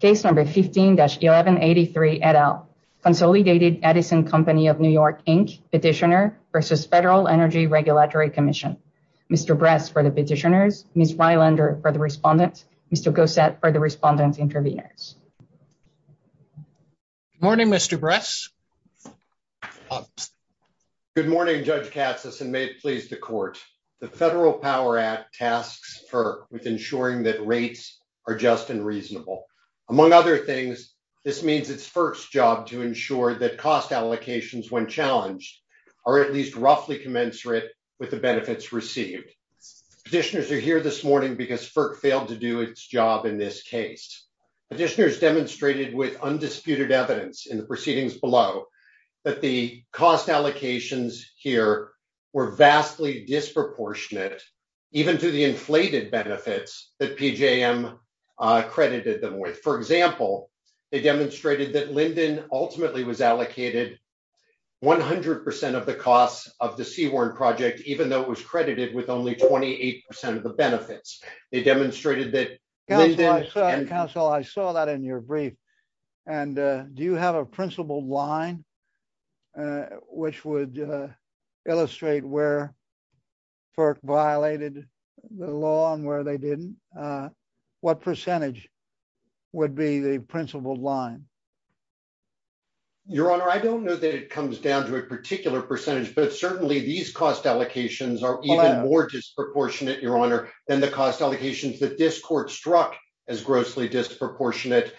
Case number 15-1183 et al. Consolidated Edison Company of New York Inc. Petitioner versus Federal Energy Regulatory Commission. Mr. Bress for the petitioners, Ms. Rylander for the respondents, Mr. Gossett for the respondent interveners. Good morning, Mr. Bress. Good morning, Judge Cassis, and may it please the court. The Federal Power Act tasks FERC with ensuring that rates are just and reasonable. Among other things, this means it's FERC's job to ensure that cost allocations, when challenged, are at least roughly commensurate with the benefits received. Petitioners are here this morning because FERC failed to do its job in this case. Petitioners demonstrated with undisputed evidence in the proceedings below that the cost allocations here were vastly disproportionate, even to the inflated benefits that PJM credited them with. For example, they demonstrated that Linden ultimately was allocated 100% of the cost of the Seaworm project, even though it was credited with only 28% of the benefits. They demonstrated that... Counsel, I saw that in your brief. Do you have a principled line which would illustrate where FERC violated the law and where they didn't? What percentage would be the principled line? Your Honor, I don't know that it comes down to a particular percentage, but certainly these cost allocations are even more disproportionate, Your Honor, than the cost allocations that this court struck as grossly disproportionate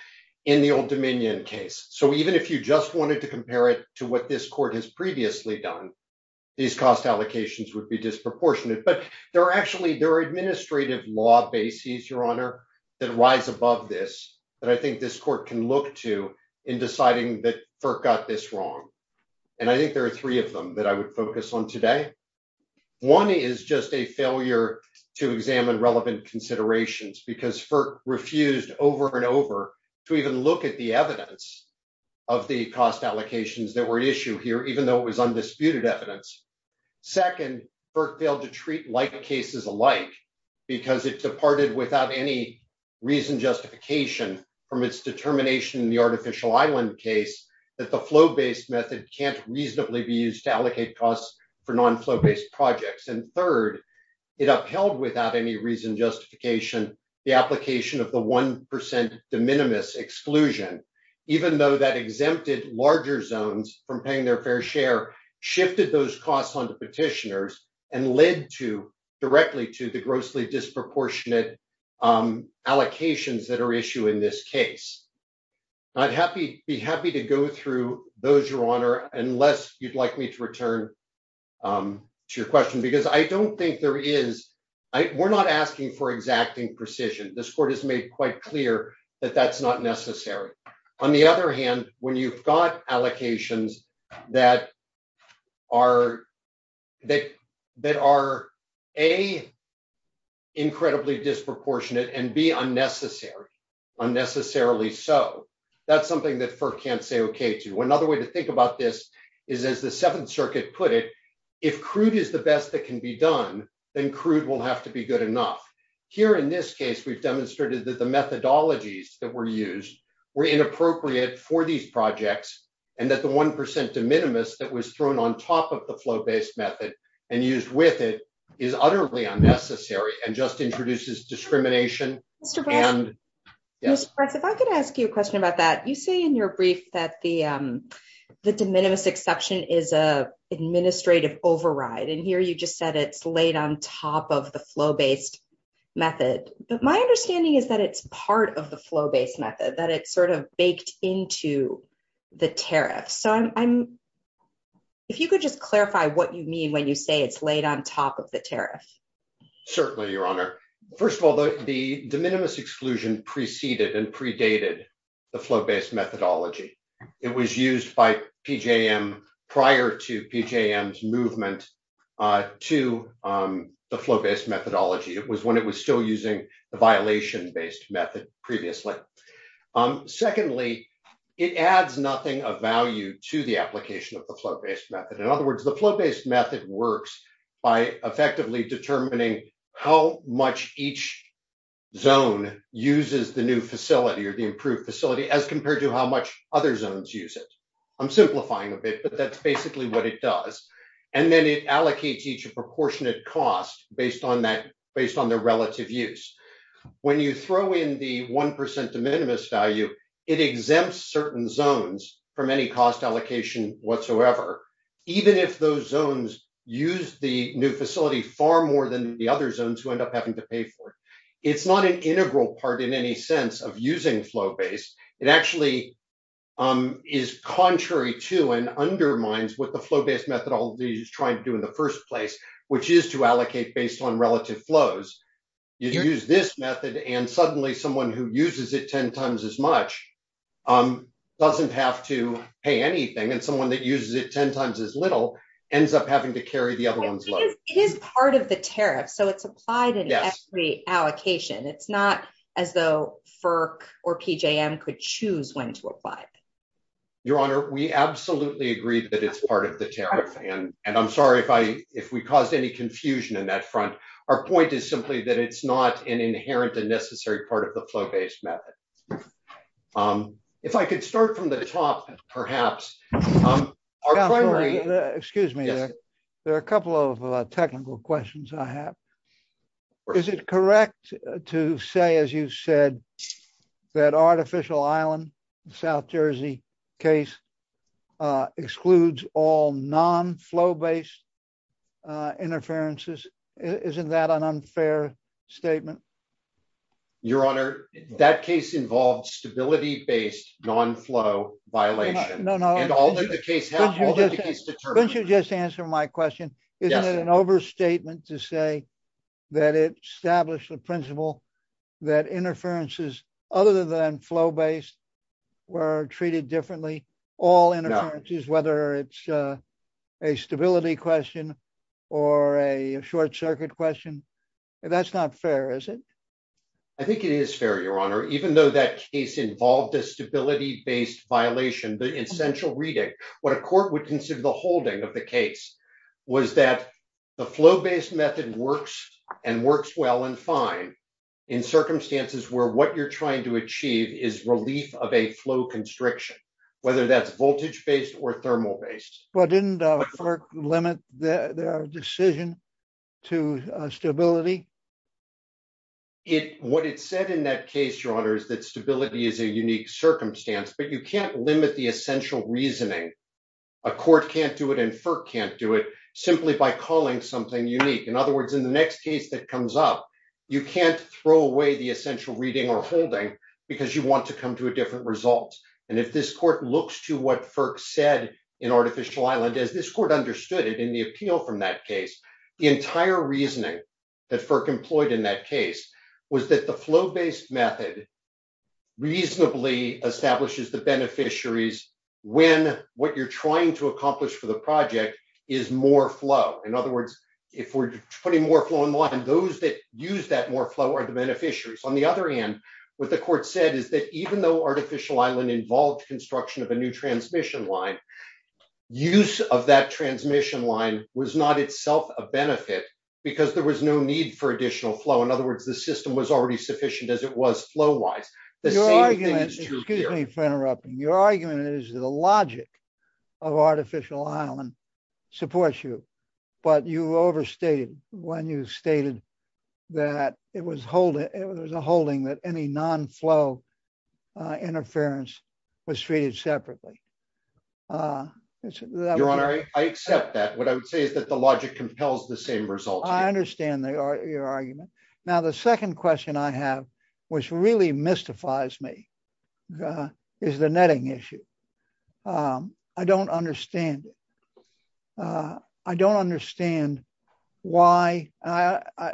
in the Old Dominion case. So even if you just wanted to compare it to what this court has previously done, these cost allocations would be disproportionate. But there are actually, there are administrative law bases, Your Honor, that rise above this that I think this court can look to in deciding that FERC got this wrong. And I think there are three of them that I would focus on today. One is just a failure to examine relevant considerations because FERC refused over and over to even look at the evidence of the cost allocations that were issued here, even though it was undisputed evidence. Second, FERC failed to treat like cases alike because it departed without any reason justification from its determination in the Artificial Island case that the flow-based method can't reasonably be used to allocate costs for the application of the 1% de minimis exclusion, even though that exempted larger zones from paying their fair share shifted those costs on the petitioners and led to, directly to, the grossly disproportionate allocations that are issued in this case. I'd be happy to go through those, Your Honor, unless you'd like me to return to your question because I don't think there is, we're not asking for exacting precision. This court has made quite clear that that's not necessary. On the other hand, when you've got allocations that are, that are, A, incredibly disproportionate and, B, unnecessary, unnecessarily so, that's something that FERC can't say okay to. Another way to think about this is, as the Seventh Circuit put it, if crude is the best that can be done, then crude will have to be good enough. Here, in this case, we've demonstrated that the methodologies that were used were inappropriate for these projects and that the 1% de minimis that was thrown on top of the flow-based method and used with it is utterly unnecessary and just introduces discrimination. Yes, if I could ask you a question about that. You say in your brief that the de minimis exception is an administrative override and here you just said it's laid on top of the flow-based method, but my understanding is that it's part of the flow-based method, that it's sort of baked into the tariff. So, I'm, if you could just clarify what you mean when you say it's laid on top of the tariff. Certainly, Your Honor. First of all, the de minimis exclusion preceded and prior to PKM's movement to the flow-based methodology. It was when it was still using the violation-based method previously. Secondly, it adds nothing of value to the application of the flow-based method. In other words, the flow-based method works by effectively determining how much each zone uses the new facility or the improved facility as compared to how much other zones use it. I'm simplifying a bit, but that's basically what it does. And then it allocates each proportionate cost based on that, based on their relative use. When you throw in the 1% de minimis value, it exempts certain zones from any cost allocation whatsoever. Even if those zones use the new facility far more than the other zones who end up having to pay for it. It's not an integral part in any sense of using flow-based. It actually is contrary to and undermines what the flow-based methodology is trying to do in the first place, which is to allocate based on relative flows. You use this method and suddenly someone who uses it 10 times as much doesn't have to pay anything. And someone that uses it 10 times as little ends up having to carry the other one's load. It is part of the tariff, so it's applied in allocation. It's not as though FERC or PJM could choose when to apply it. Your Honor, we absolutely agree that it's part of the tariff. And I'm sorry if we caused any confusion in that front. Our point is simply that it's not an inherent and necessary part of the flow-based method. If I could start from the top, perhaps. Counselor, excuse me. There are a couple of technical questions I have. Is it correct to say, as you've said, that Artificial Island, the South Jersey case, excludes all non-flow-based interferences? Isn't that an unfair statement? Your Honor, that case involves stability-based non-flow violations. No, no. And all that the case has, all that the case determines. Don't you just answer my question. Isn't it an overstatement to say that it established the principle that interferences, other than flow-based, were treated differently? No. All interferences, whether it's a stability question or a short-circuit question, that's not fair, is it? I think it is fair, Your Honor. Even though that case involved a stability-based violation, the essential reading, what a court would consider the holding of the case, was that the flow-based method works and works well and fine in circumstances where what you're trying to achieve is relief of a flow constriction, whether that's voltage-based or thermal-based. Didn't FERC limit their decision to stability? What it said in that case, Your Honor, is that stability is a unique circumstance, but you can't limit the essential reasoning. A court can't do it and FERC can't do it, simply by calling something unique. In other words, in the next case that comes up, you can't throw away the essential reading or holding because you want to come to different results. If this court looks to what FERC said in Artificial Island, as this court understood it in the appeal from that case, the entire reasoning that FERC employed in that case was that the flow-based method reasonably establishes the beneficiaries when what you're trying to accomplish for the project is more flow. In other words, if we're putting more flow in line, those that use that more flow are the beneficiaries. On the other hand, what the court said is that even though Artificial Island involved construction of a new transmission line, use of that transmission line was not itself a benefit because there was no need for additional flow. In other words, the system was already sufficient as it was flow-wise. Your argument is that the logic of Artificial Island supports you, but you overstated when you stated that it was a holding that any non-flow interference was treated separately. I accept that. What I would say is that the logic compels the same results. I understand your argument. The second question I have, which really mystifies me, is the netting issue. I don't understand it. I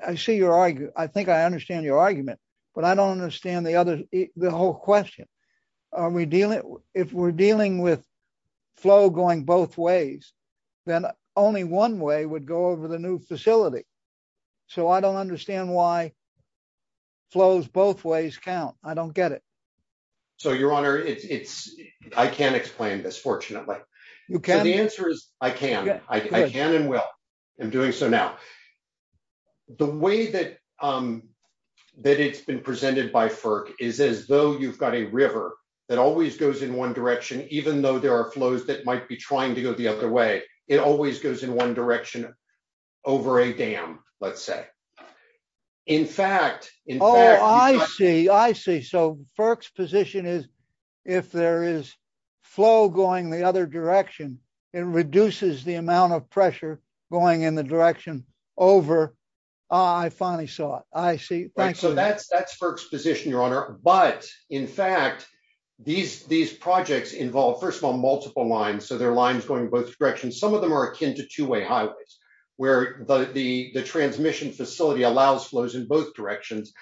think I understand your argument, but I don't understand the whole question. If we're dealing with flow going both ways, then only one way would go over the new facility. I don't understand why flows both ways count. I don't get it. Your Honor, I can't explain this, fortunately. The answer is I can. I can and will. I'm doing so now. The way that it's been presented by FERC is as though you've got a river that always goes in one direction, even though there are flows that might be trying to go the other way. It always goes in one direction over a dam, let's say. Oh, I see. I see. FERC's position is if there is flow going the other direction, it reduces the amount of pressure going in the direction over. I finally saw it. I see. That's FERC's position, Your Honor, but in fact, these projects involve, first of all, multiple lines, so there are lines going both directions. Some of them are akin to two-way allows flows in both directions.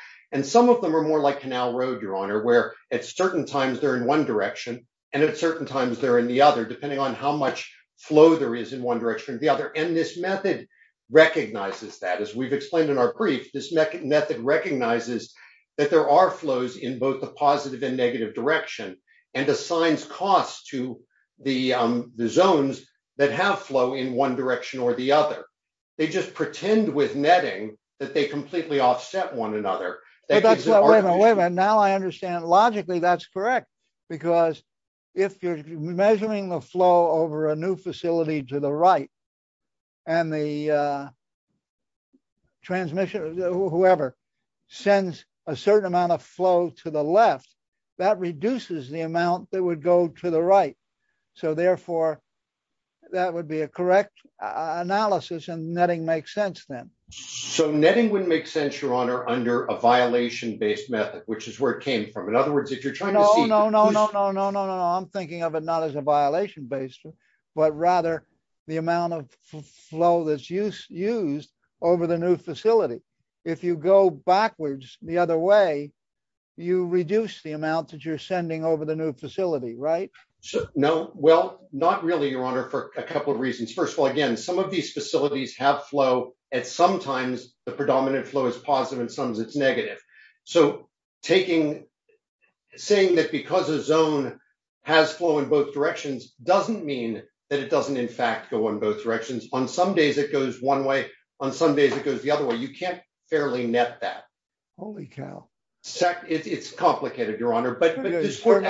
Some of them are more like Canal Road, Your Honor, where at certain times they're in one direction and at certain times they're in the other, depending on how much flow there is in one direction or the other. This method recognizes that. As we've explained in our brief, this method recognizes that there are flows in both the positive and negative direction and assigns costs to the zones that have flow in one direction or the other. They just pretend with netting that they completely offset one another. Wait a minute. Now I understand. Logically, that's correct because if you're measuring the flow over a new facility to the right and the transmission or whoever sends a certain amount of flow to the left, that reduces the amount that would go to the right, so therefore, that would be a correct analysis and netting makes sense then. So netting would make sense, Your Honor, under a violation-based method, which is where it came from. In other words, if you're trying to... No, no, no, no, no, no, no. I'm thinking of it not as a violation-based, but rather the amount of flow that's used over the new facility. If you go backwards the other way, you reduce the amount that you're sending over the new facility, right? No. Well, not really, Your Honor, for a couple of reasons. First of all, again, some of these facilities have flow and sometimes the predominant flow is positive and sometimes it's negative. So saying that because a zone has flow in both directions doesn't mean that it doesn't, in fact, go in both directions. On some days, it goes one way. On some days, it goes the other way. You can't fairly net that. Holy cow. It's complicated, Your Honor, but this court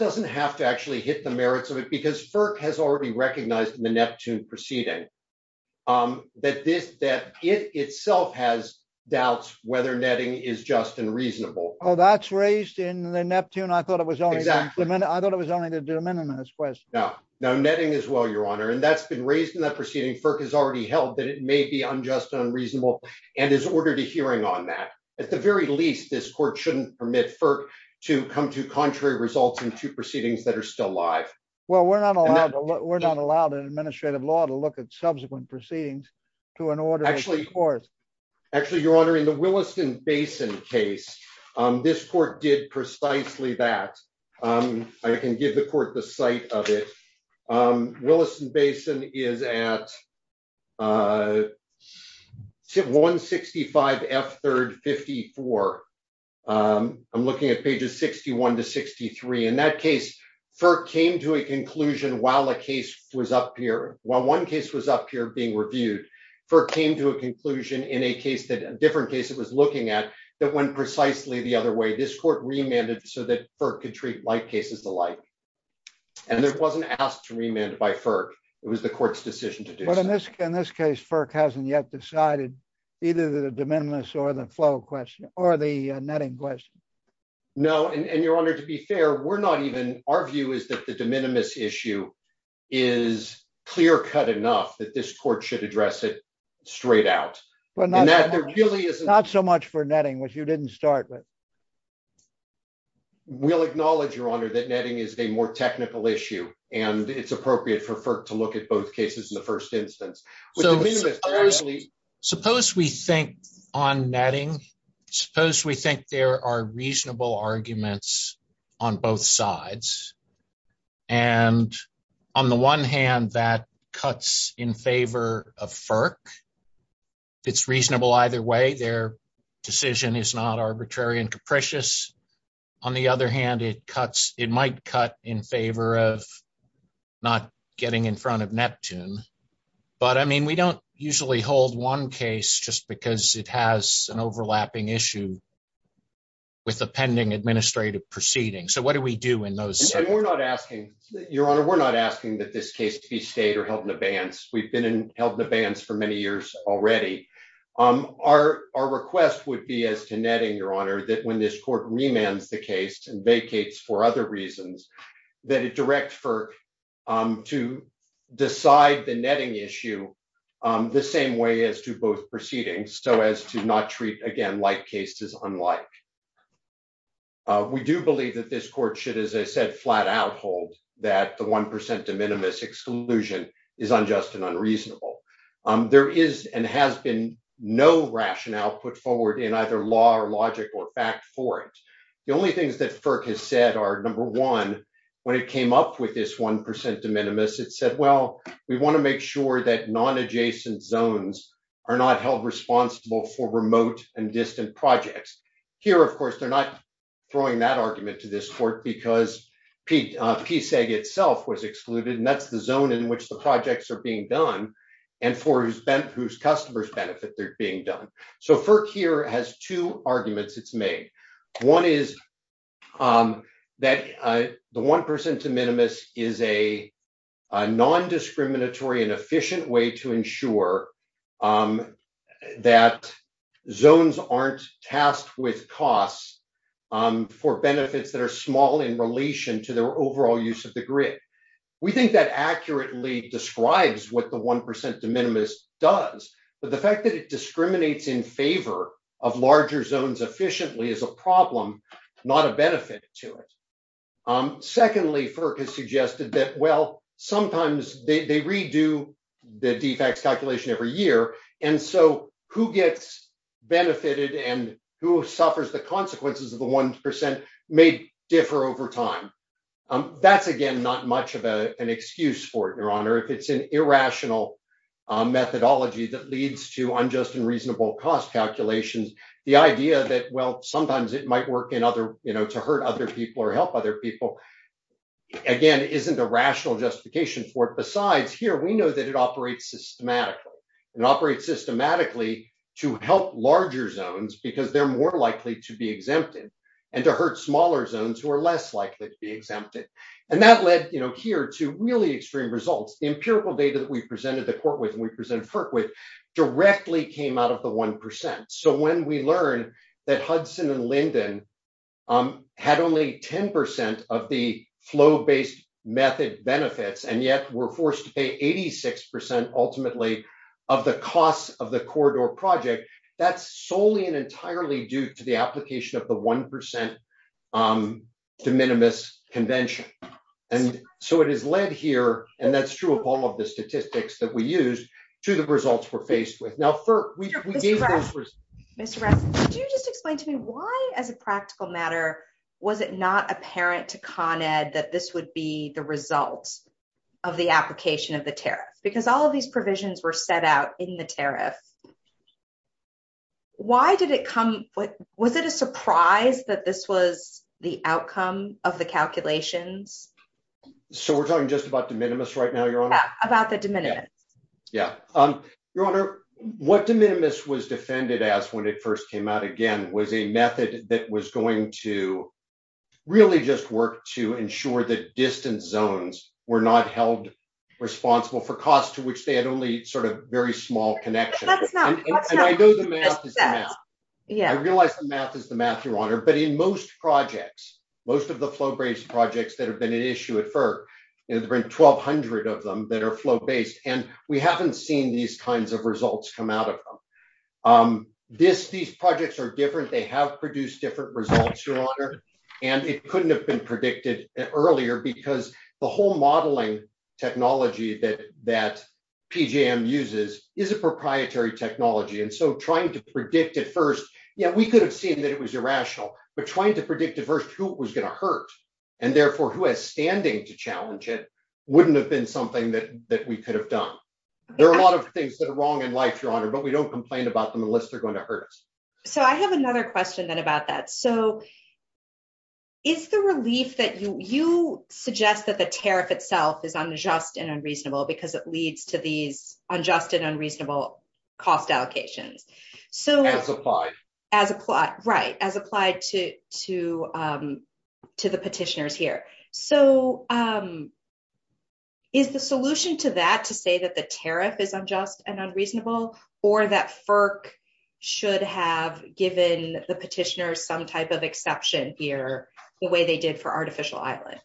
doesn't have to actually hit the merits of it because FERC has already recognized in the Neptune proceeding that it itself has doubts whether netting is just and reasonable. Oh, that's raised in the Neptune. I thought it was only the de minimis question. No. No, netting is well, Your Honor, and that's been raised in that proceeding. FERC has already held that it may be unjust and unreasonable and has ordered a hearing on that. At the very least, this court shouldn't permit FERC to come to contrary results in two proceedings that are still alive. Well, we're not allowed in administrative law to look at subsequent proceedings to an order of this court. Actually, Your Honor, in the Williston Basin case, this court did precisely that. I can give the court the site of it. Williston Basin is at 165 F3rd 54. I'm looking at pages 61 to 63. In that case, FERC came to a conclusion while one case was up here being reviewed. FERC came to a conclusion in a different case it was looking at that went precisely the other way. This court remanded so that FERC could treat like cases alike. It wasn't asked to remand by FERC. It was the court's decision to do so. In this case, FERC hasn't yet decided either the de minimis or the flow question or the netting question. No, and Your Honor, to be fair, our view is that the de minimis issue is clear-cut enough that this court should address it straight out. Not so much for netting, which you didn't start with. We'll acknowledge, Your Honor, that netting is a more technical issue, and it's appropriate for FERC to look at both cases in the first instance. Suppose we think on netting, suppose we think there are reasonable arguments on both sides. On the one hand, that cuts in favor of FERC. It's reasonable either way. Their decision is not not getting in front of Neptune. But, I mean, we don't usually hold one case just because it has an overlapping issue with a pending administrative proceeding. So what do we do in those cases? We're not asking, Your Honor, we're not asking that this case be stayed or held in abeyance. We've been held in abeyance for many years already. Our request would be as to netting, Your Honor, that when this court remands the case and vacates for other reasons, that it directs FERC to decide the netting issue the same way as to both proceedings, so as to not treat, again, like cases unlike. We do believe that this court should, as I said, flat out hold that the 1% de minimis exclusion is unjust and unreasonable. There is and has been no rationale put forward in either law or logic or fact for it. The only things that FERC has said are, number one, when it came up with this 1% de minimis, it said, well, we want to make sure that non-adjacent zones are not held responsible for remote and distant projects. Here, of course, they're not throwing that argument to this court because PSAG itself was excluded, and that's the zone in which the projects are being done and for whose customers' benefit they're being done. So FERC here has two arguments it's made. One is that the 1% de minimis is a non-discriminatory and efficient way to ensure that zones aren't tasked with costs for benefits that are small in relation to their overall use of the grid. We think that accurately describes what the 1% de minimis is. The 1% de minimis is in favor of larger zones efficiently as a problem, not a benefit to it. Secondly, FERC has suggested that, well, sometimes they redo the defects calculation every year, and so who gets benefited and who suffers the consequences of the 1% may differ over time. That's, again, not much of an excuse for it, Your Honor, if it's an irrational methodology that leads to unjust and reasonable cost calculations. The idea that, well, sometimes it might work to hurt other people or help other people, again, isn't a rational justification for it. Besides, here, we know that it operates systematically. It operates systematically to help larger zones because they're more likely to be exempted and to hurt smaller zones who are less likely to be exempted. That led here to really results. The empirical data that we presented at Fort Worth and we presented at FERC with directly came out of the 1%. When we learned that Hudson and Linden had only 10% of the flow-based method benefits and yet were forced to pay 86% ultimately of the cost of the corridor project, that's solely and entirely due to the application of the 1% de minimis convention. And so it has led here, and that's true of all of the statistics that we used, to the results we're faced with. Now, FERC, we gave those results. Mr. Rasmus, could you just explain to me why, as a practical matter, was it not apparent to Con Ed that this would be the result of the application of the tariff? Because all of these provisions were set out in the tariff. Why did it come? Was it a surprise that this was the outcome of the calculation? So we're talking just about de minimis right now, Your Honor? About the de minimis. Yeah. Your Honor, what de minimis was defended as when it first came out, again, was a method that was going to really just work to ensure that distant zones were not held responsible for costs to which they had only sort of very small connections. And I know the math is the math. I realize the math is the math, Your Honor, but in most projects, most of the flow-based projects that have been an issue at FERC, there's been 1,200 of them that are flow-based, and we haven't seen these kinds of results come out of them. These projects are different. They have produced different results, Your Honor, and it couldn't have been predicted earlier because the whole modeling technology that PGM uses is a proprietary technology. And so trying to predict at first, yeah, we could have seen that it was irrational, but trying to predict at first who it was going to hurt, and therefore who had standing to challenge it, wouldn't have been something that we could have done. There are a lot of things that are wrong in life, Your Honor, but we don't complain about them unless they're going to hurt us. So I have another question then about that. So is the relief that you suggest that the tariff itself is unjust and unreasonable because it applies to the petitioners here. So is the solution to that to say that the tariff is unjust and unreasonable or that FERC should have given the petitioners some type of exception here the way they did for artificial islands?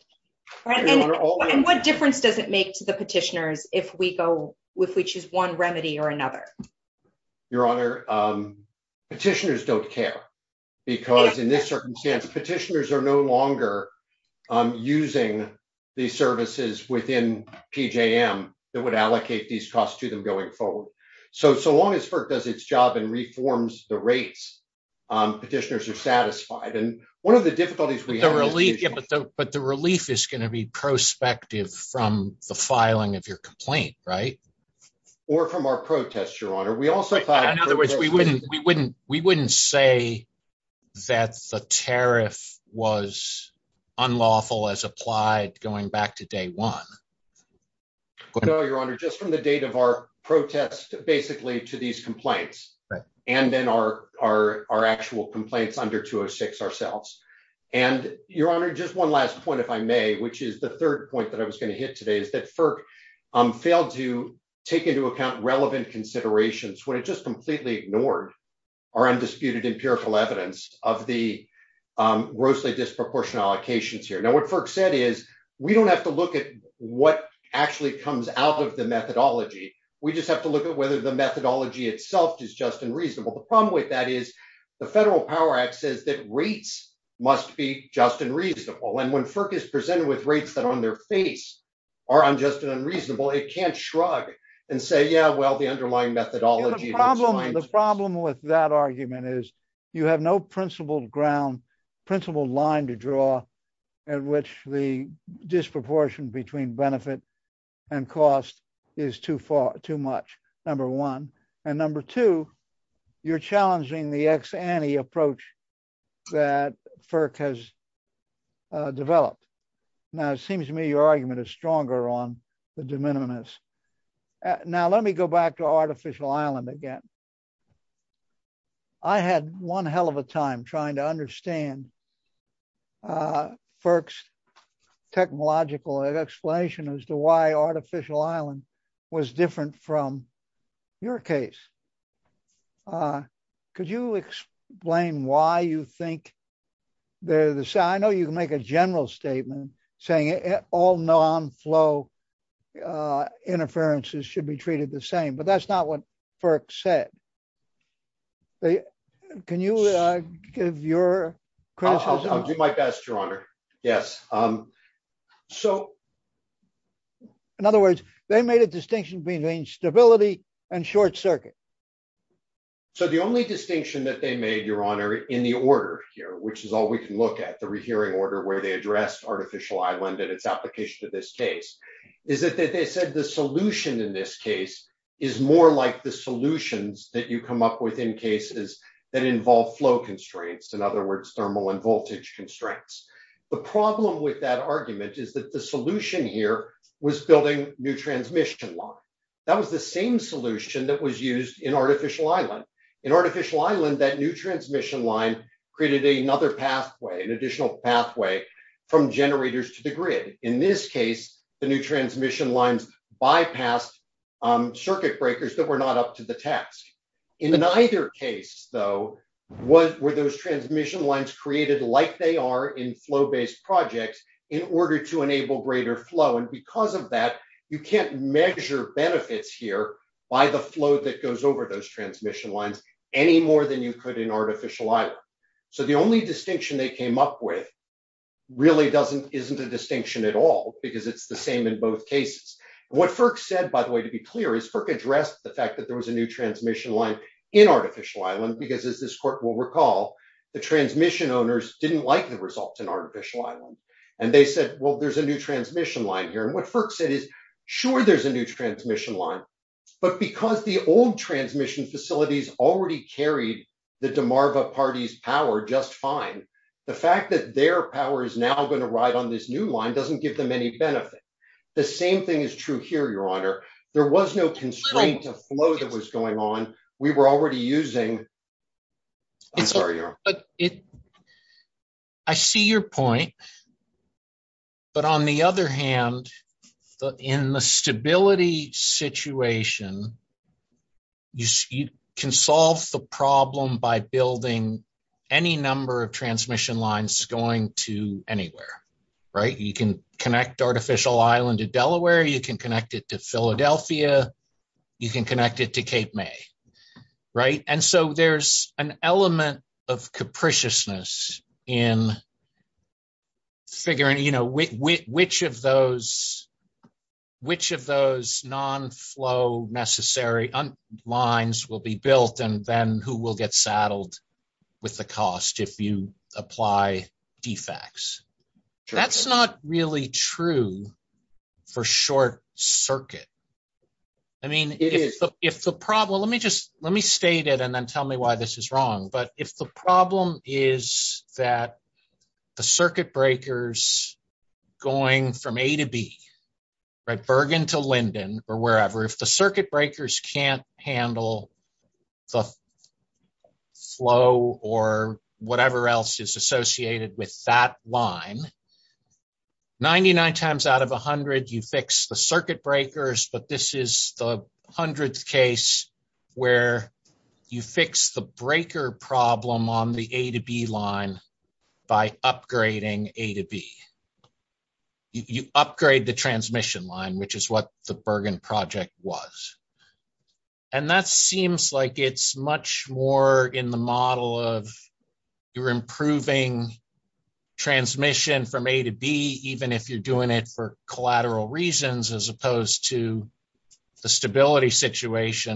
And what difference does it make to the petitioners if we choose one remedy or another? Your Honor, petitioners don't care because in this circumstance, petitioners are no longer using the services within PGM that would allocate these costs to them going forward. So as long as FERC does its job and reforms the rates, petitioners are satisfied. And one of the difficulties we have- But the relief is going to be prospective from the filing of your complaint, right? Or from our protest, Your Honor. In other words, we wouldn't say that the tariff was unlawful as applied going back to day one. No, Your Honor, just from the date of our protest basically to these complaints and then our actual complaints under 206 ourselves. And Your Honor, just one last point, if I may, which is the third point that I was going to hit today is that FERC failed to take into account relevant considerations when it just completely ignored our undisputed and fearful evidence of the grossly disproportionate allocations here. Now, what FERC said is we don't have to look at what actually comes out of the methodology. We just have to look at whether the methodology itself is just and reasonable. The problem with that is the Federal Power Act says that rates must be just and reasonable. And when FERC is presented with rates that on their face are unjust and unreasonable, it can't shrug and say, yeah, well, the underlying methodology- The problem with that argument is you have no principled ground, principled line to draw at which the disproportion between benefit and cost is too far, too much, number one. And number two, you're challenging the ex-ante approach that FERC has developed. Now, it seems to me your argument is stronger on the de minimis. Now, let me go back to artificial island again. I had one hell of a time trying to understand FERC's technological explanation as to why artificial island was different from your case. Could you explain why you think the- I know you can make a general statement saying all non-flow interferences should be treated the same, but that's not what FERC said. Can you give your- I'll do my best, your honor. Yes. So, in other words, they made a distinction between stability and short circuit. So, the only distinction that they made, your honor, in the order here, which is all we can look at, the rehearing order where they addressed artificial island and its application to this case, is that they said the solution in this case is more like the solutions that you come up with in cases that involve flow constraints. In other words, thermal and voltage constraints. The problem with that argument is that the solution here was building new transmission lines. That was the same solution that was used in artificial island. In artificial island, that new transmission line created another pathway, an additional pathway from generators to the grid. In this case, the new transmission lines bypassed circuit breakers that were not up to the task. In either case, though, were those transmission lines created like they are in flow based projects in order to enable greater flow? And because of that, you can't measure benefits here by the flow that goes over those transmission lines any more than you could in artificial island. So, the only distinction they came up with really isn't a distinction at all, because it's the same in both cases. What Firk said, by the way, to be clear, is Firk addressed the fact that there was a new transmission line in artificial island, because as this court will recall, the transmission owners didn't like the results in artificial island. And they said, well, there's a new transmission line here. And what Firk said is, sure, there's a new transmission line. But because the old transmission facilities already carried the DeMarva Party's power just fine, the fact that their power is now going to ride on this new line doesn't give them any benefit. The same thing is true here, Your Honor. There was no constraint to flow that was going on. We were already using – I'm sorry, Your Honor. But it – I see your point. But on the other hand, in the stability situation, you can solve the problem by building any number of transmission lines going to anywhere, right? You can connect artificial island to Delaware. You can connect it to Philadelphia. You can connect it to Cape May, right? And so there's an element of capriciousness in figuring, you know, which of those non-flow necessary lines will be built and then who will get saddled with the cost if you just – let me state it and then tell me why this is wrong. But if the problem is that the circuit breakers going from A to B, right, Bergen to Linden or wherever, if the circuit breakers can't handle the flow or whatever else is associated with that line, 99 times out of 100 you fix the where you fix the breaker problem on the A to B line by upgrading A to B. You upgrade the transmission line, which is what the Bergen project was. And that seems like it's much more in the model of you're improving transmission from A to B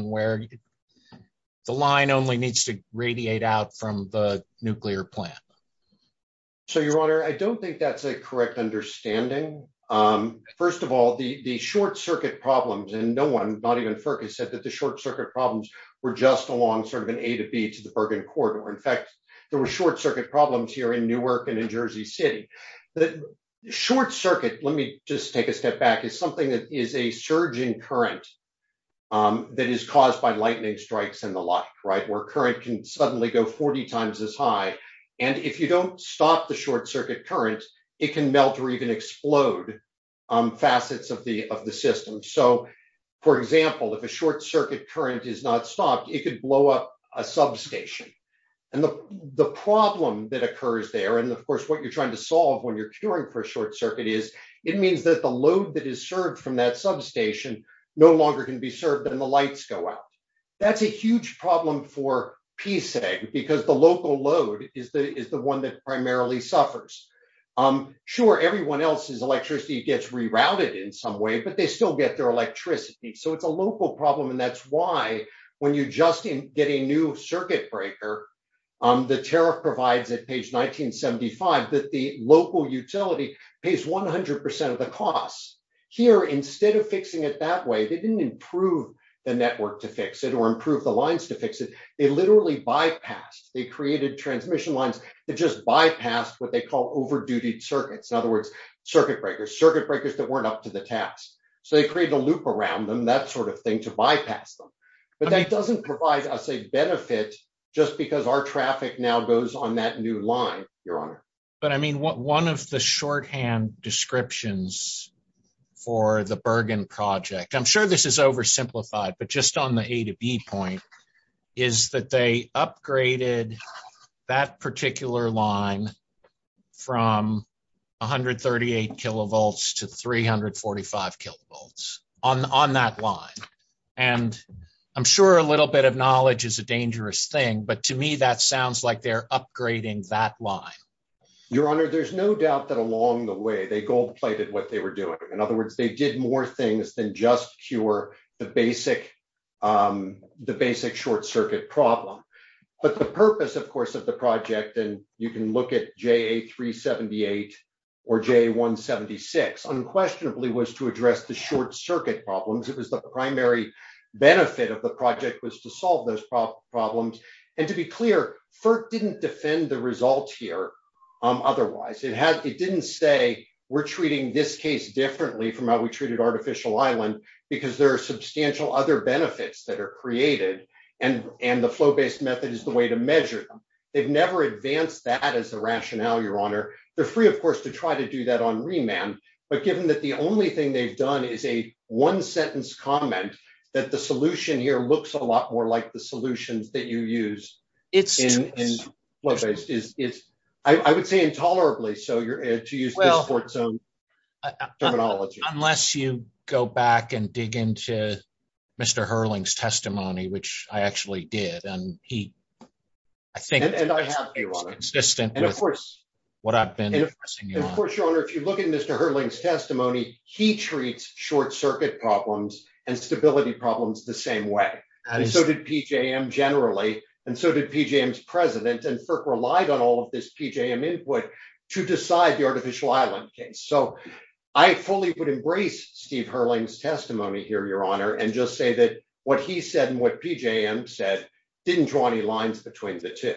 where the line only needs to radiate out from the nuclear plant. So, your honor, I don't think that's a correct understanding. First of all, the short circuit problems and no one, not even FERC has said that the short circuit problems were just along sort of an A to B to the Bergen corridor. In fact, there were short circuit problems here in Newark and in Jersey City. The short circuit, let me just take a step back, is something that is a surging current that is caused by lightning strikes and the like, right, where current can suddenly go 40 times as high. And if you don't stop the short circuit currents, it can melt or even explode facets of the system. So, for example, if a short circuit current is not stopped, it could blow up a substation. And the problem that occurs there, and of course, what you're trying to solve when you're curing for a short circuit is, it means that the load that is served from that substation no longer can be served and the lights go out. That's a huge problem for PSA because the local load is the one that primarily suffers. Sure, everyone else's electricity gets rerouted in some way, but they still get their electricity. So, it's a local problem and that's why when you just get a new circuit breaker, the tariff provides at page 1975 that the local utility pays 100% of the cost. Here, instead of fixing it that way, they didn't improve the network to fix it or improve the lines to fix it. They literally bypassed. They created transmission lines that just bypassed what they call over-duty circuits. In other words, circuit breakers, circuit breakers that weren't up to the task. So, they created a loop around them, that sort of thing, to bypass them. But that doesn't provide us a benefit just because our but I mean one of the shorthand descriptions for the Bergen project, I'm sure this is oversimplified, but just on the A to B point, is that they upgraded that particular line from 138 kilovolts to 345 kilovolts on that line. And I'm sure a little bit of knowledge is a Your Honor, there's no doubt that along the way they gold-plated what they were doing. In other words, they did more things than just cure the basic short circuit problem. But the purpose, of course, of the project, and you can look at JA378 or JA176, unquestionably was to address the short circuit problems. It was the primary benefit of the project was to solve those problems. And to be clear, FERC didn't defend the results here otherwise. It didn't say, we're treating this case differently from how we treated artificial island because there are substantial other benefits that are created and the flow-based method is the way to measure them. They've never advanced that as the rationale, Your Honor. They're free, of course, to try to do that on remand. But given that the only thing they've done is a one-sentence comment that the solution here looks a lot more like the solution that you use. I would say intolerably. Unless you go back and dig into Mr. Hurling's testimony, which I actually did. Of course, Your Honor, if you look at Mr. Hurling's testimony, he treats short circuit problems and stability problems the same way. And so did PJM generally, and so did PJM's president and FERC relied on all of this PJM input to decide the artificial island case. So I fully would embrace Steve Hurling's testimony here, Your Honor, and just say that what he said and what PJM said didn't draw any lines between the two.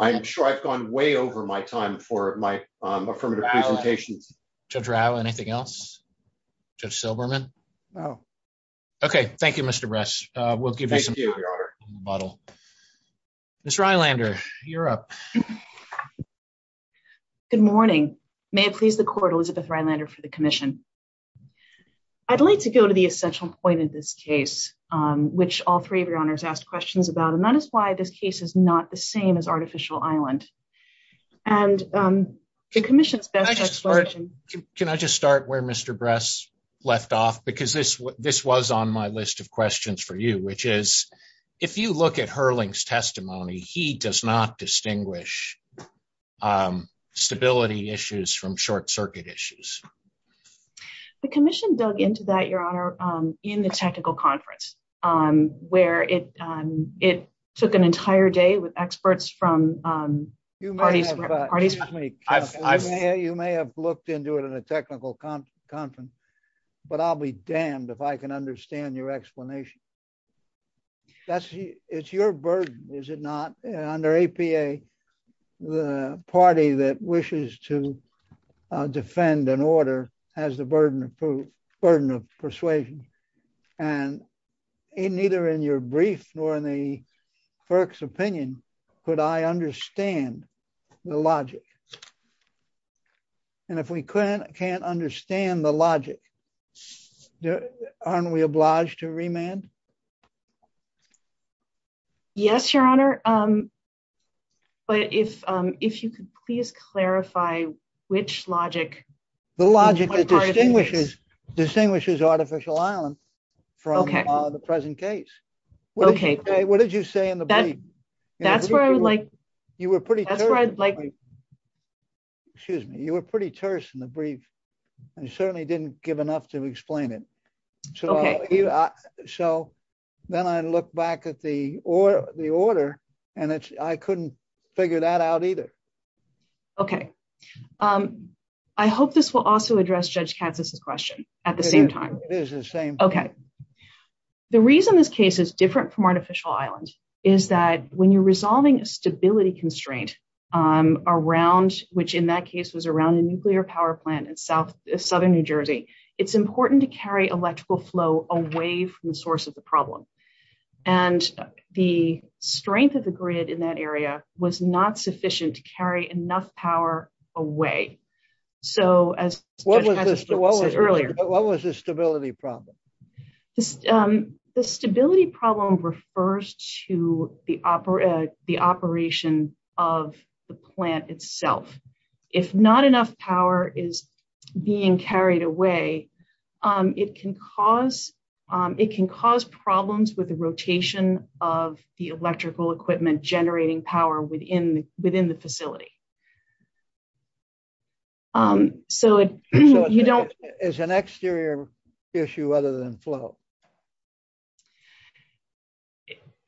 I'm sure I've gone way over my time for my affirmative presentation. Judge Rao, anything else? Judge Silberman? No. Okay. Thank you, Mr. Bresch. Mr. Eilander, you're up. Good morning. May it please the court, Elizabeth Eilander for the commission. I'd like to go to the essential point of this case, which all three of your honors asked questions about. And that is why this case is not the same as artificial island. And the commission... Can I just start where Mr. Bresch left off? Because this was on my list of questions for you, which is, if you look at Hurling's testimony, he does not distinguish stability issues from short circuit issues. The commission dug into that, Your Honor, in the technical conference, where it took an entire day with experts from... You may have looked into it in a technical conference, but I'll be damned if I can understand your explanation. It's your burden, is it not? Under APA, the party that wishes to and neither in your brief nor in the clerk's opinion, could I understand the logic. And if we can't understand the logic, aren't we obliged to remand? Yes, Your Honor. But if you could please clarify which logic... The logic that distinguishes artificial island from the present case. What did you say in the brief? You were pretty terse in the brief. You certainly didn't give enough to explain it. So then I looked back at the order and I couldn't figure that out either. Okay. I hope this will also address Judge Katz's question at the same time. It is the same. Okay. The reason this case is different from artificial islands is that when you're resolving a stability constraint, which in that case was around a nuclear power plant in southern New Jersey, it's important to carry electrical flow away from the source of the problem. And the strength of the grid in that area was not sufficient to carry enough power away. So as Judge Katz said earlier... What was the stability problem? The stability problem refers to the operation of the plant itself. If not enough power is being carried away, it can cause problems with the rotation of the electrical equipment generating power within the facility. So you don't... Is an exterior issue other than flow?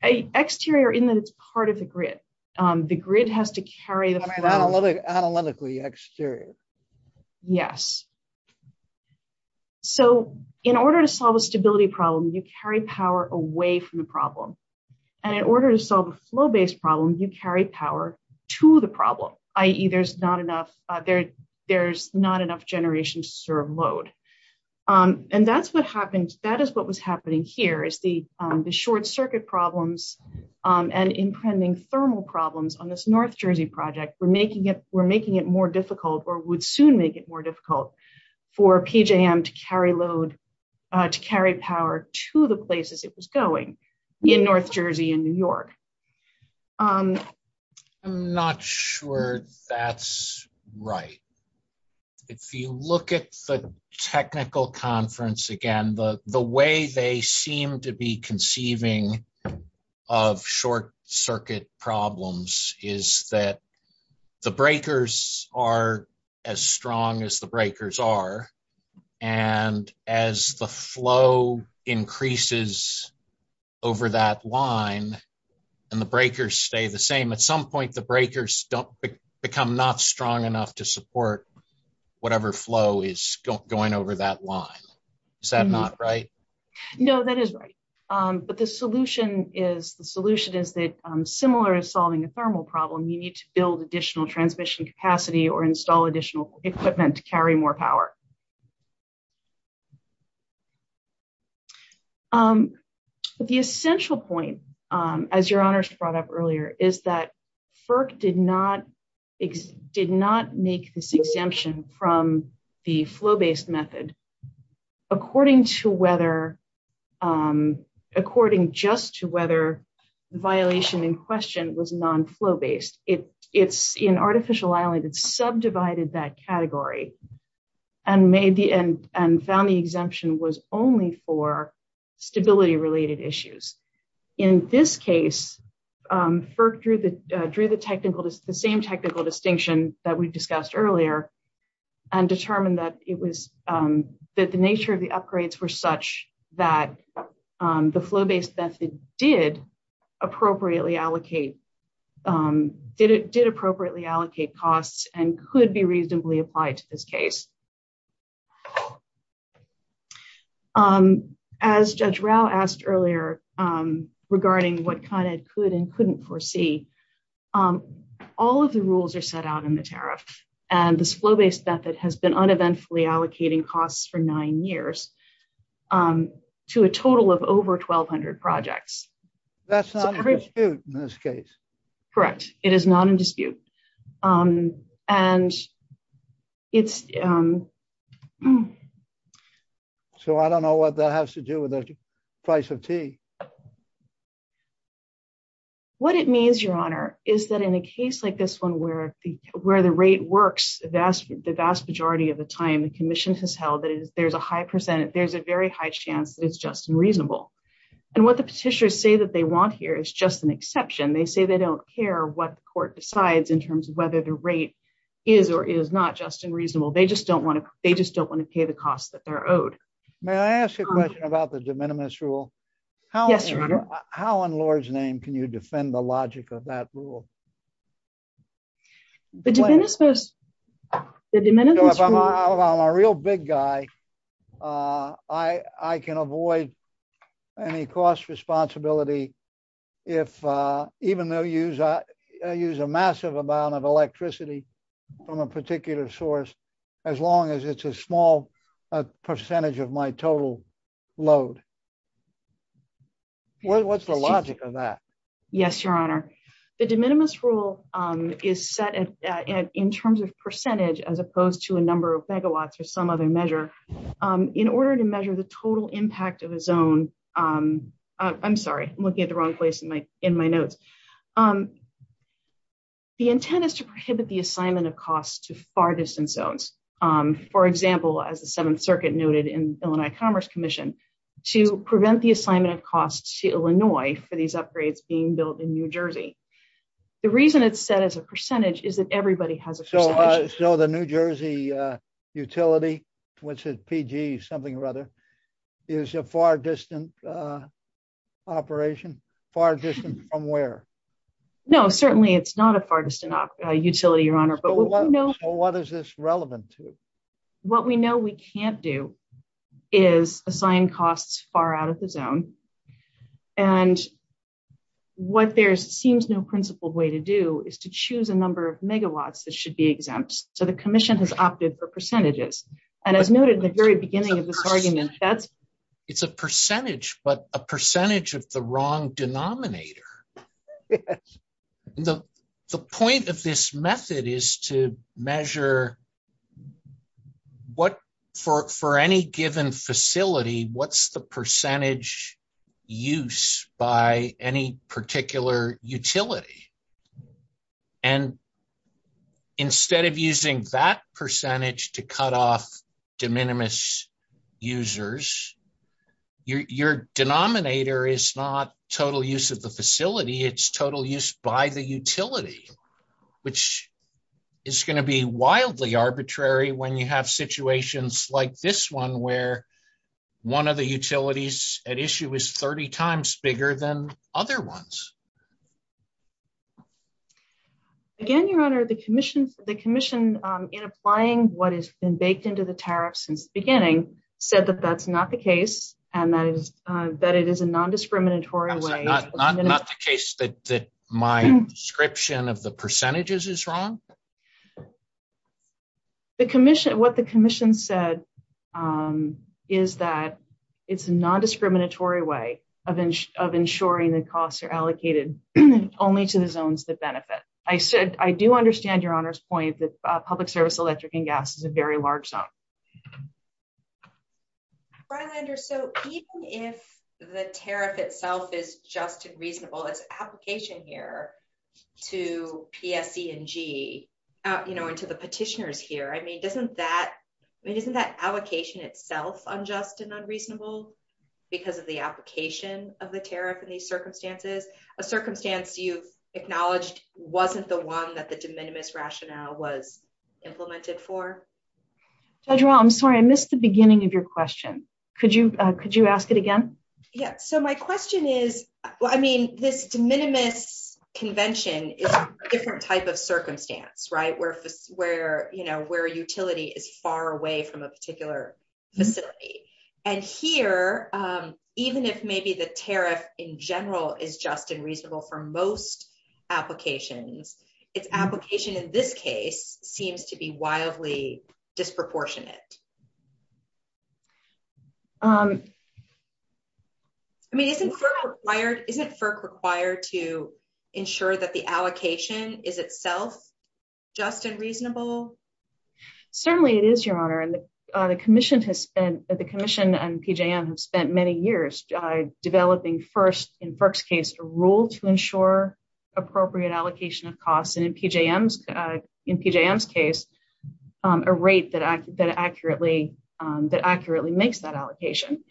Exterior in that it's part of the grid. The grid has to carry... Analytically exterior. Yes. So in order to solve a stability problem, you carry power away from the problem. And in order to solve a flow-based problem, you carry power to the problem, i.e. there's not enough generation to serve load. And that is what was happening here is the short circuit problems and impending thermal problems on this North Jersey project were making it more difficult or would soon make it more difficult for PJM to carry load, to carry power to the places it was going in North Jersey and New York. I'm not sure that's right. If you look at the technical conference again, the way they seem to be conceiving of short circuit problems is that the breakers are as strong as the breakers are. And as the flow increases over that line and the breakers stay the same, at some point, the breakers become not strong enough to support whatever flow is going over that line. Is that not right? No, that is right. But the solution is that similar to solving a thermal problem, you need to build additional transmission capacity or install additional equipment to carry more power. The essential point, as your honors brought up earlier, is that FERC did not make this method according just to whether the violation in question was non-flow based. It's an artificial island. It's subdivided that category and found the exemption was only for stability related issues. In this case, FERC drew the same technical distinction that we discussed earlier and determined that the nature of the upgrades were such that the flow-based method did appropriately allocate costs and could be reasonably applied to this case. As Judge Rao asked earlier regarding what ConEd could and couldn't foresee, all of the rules are set out in the tariff. And this flow-based method has been uneventfully allocating costs for nine years to a total of over 1,200 projects. That's not a dispute in this case. Correct. It is not a dispute. So, I don't know what that has to do with the price of tea. What it means, your honor, is that in a case like this one where the rate works the vast majority of the time, the commission has held that there's a very high chance it's just unreasonable. And what the petitioners say that they want here is just an exception. They say they don't care what the court decides in terms of whether the rate is or is not just unreasonable. They just don't want to pay the cost that they're owed. May I ask a question about the de minimis rule? Yes, your honor. How, in Lord's name, can you defend the logic of that rule? The de minimis rule... I'm a real big guy. I can avoid any cost responsibility, even though I use a massive amount of electricity from a particular source, as long as it's a small percentage of my total load. What's the logic of that? Yes, your honor. The de minimis rule is set in terms of percentage as opposed to a number of megawatts or some other measure. In order to measure the total impact of a zone... I'm sorry. I'm looking at the wrong place in my notes. The intent is to prohibit the assignment of costs to far-distance zones. For example, as the Seventh Circuit noted in Illinois Commerce Commission, to prevent the assignment of costs to Illinois for these upgrades being built in New Jersey. The reason it's set as a percentage is that everybody has a percentage. So the New Jersey utility, which is PG something or other, is a far-distance operation? Far-distance from where? No, certainly it's not a far-distance utility, your honor. So what is this relevant to? What we know we can't do is assign costs far out of the zone. And what there seems no principled way to do is to choose a number of megawatts that should be exempt. So the commission has opted for percentages. And as noted at the very beginning of this argument, that's... It's a percentage, but a percentage of the wrong denominator. Yes. The point of this method is to measure what, for any given facility, what's the percentage use by any particular utility? And instead of using that percentage to cut off de minimis users, your denominator is not total use of the facility. It's total use by the utility, which is going to be wildly arbitrary when you have situations like this one, where one of the utilities at issue is 30 times bigger than other ones. Again, your honor, the commission in applying what has been baked into the tariff since beginning said that that's not the case and that it is a non-discriminatory way... That's not the case, that my description of the percentages is wrong? What the commission said is that it's a non-discriminatory way of ensuring the costs are allocated only to the zones that benefit. I said, I do understand your honor's point that public service electric and gas is a very large zone. Brian, even if the tariff itself is just and reasonable, it's an application here to PSD and G, and to the petitioners here. I mean, isn't that allocation itself unjust and unreasonable because of the application of the tariff in these circumstances? A circumstance you acknowledged wasn't the one that the de minimis rationale was implemented for? Judge Rall, I'm sorry. I missed the beginning of your question. Could you ask it again? Yeah. So my question is, I mean, this de minimis convention is a different type of circumstance, right? Where a utility is far away from a particular facility. And here, even if maybe the tariff in general is just and reasonable for most applications, its application in this case seems to be wildly disproportionate. I mean, isn't FERC required to ensure that the allocation is itself just and reasonable? Certainly it is, your honor. And the commission and PJM have spent many years developing first, in FERC's case, a rule to ensure appropriate allocation of costs. In PJM's case, a rate that accurately makes that allocation.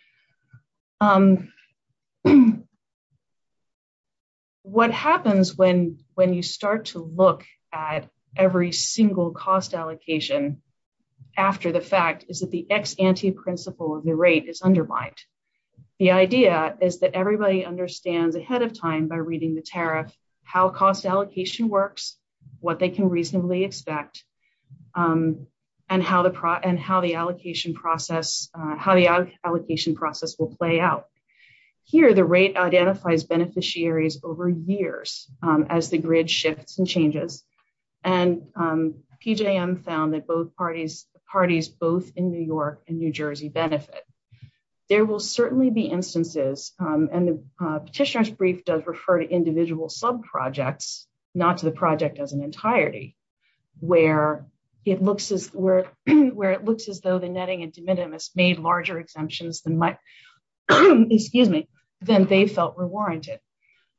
What happens when you start to look at every single cost allocation after the fact is that the ex ante principle of the rate is undermined. The idea is that everybody understands ahead of time by reading the tariff how cost allocation works, what they can reasonably expect, and how the allocation process will play out. Here, the rate identifies beneficiaries over years as the grid shifts and changes. And PJM found that both parties both in New York and New Jersey benefit. There will certainly be instances, and the petitioner's brief does refer to individual sub-projects, not to the project as an entirety, where it looks as though the netting and de minimis made larger exemptions than they felt were warranted.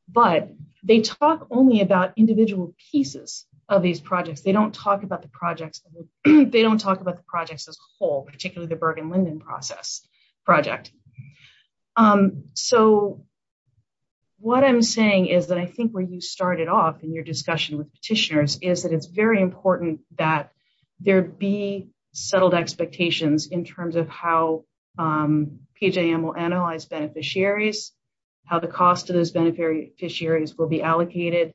But they talk only about individual pieces of these projects. They don't talk about the projects as a whole, particularly the Bergen-Linden project. So, what I'm saying is that I think when you started off in your discussion with petitioners is that it's very important that there be settled expectations in terms of how PJM will analyze beneficiaries, how the cost of those beneficiaries will be allocated,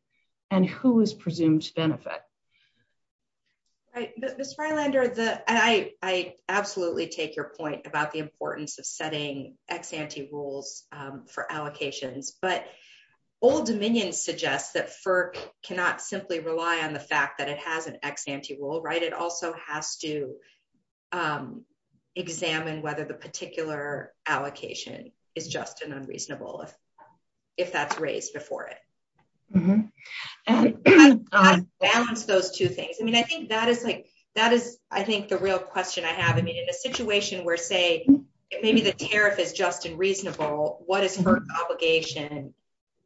and how they're going to be used. Right. But Miss Freilander, I absolutely take your point about the importance of setting ex ante rules for allocation. But old dominion suggests that FERC cannot simply rely on the fact that it has an ex ante rule, right? It also has to examine whether the particular allocation is just and unreasonable if that's raised before it. And to balance those two things, I mean, I think that is the real question I have. I mean, in a situation where, say, maybe the tariff is just and reasonable, what is FERC's obligation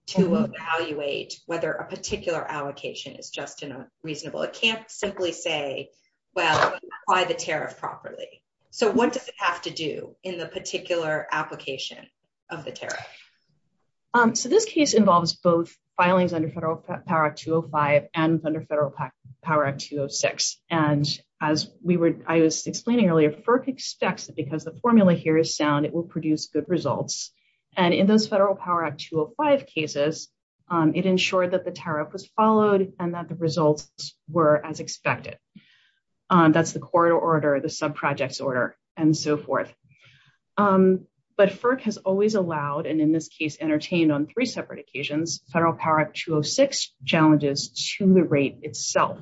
to evaluate whether a particular allocation is just and unreasonable? It can't simply say, well, apply the tariff properly. So, what does it have to do in the particular application of the tariff? So, this case involves both filings under Federal Power Act 205 and under Federal Power Act 206. And as I was explaining earlier, FERC expects that because the formula here is sound, it will produce good results. And in those Federal Power Act 205 cases, it ensured that the tariff was followed and that the results were as expected. That's the corridor order, the subprojects order, and so forth. But FERC has always allowed, and in this case, entertained on three separate occasions, Federal Power Act 206 challenges to the rate itself.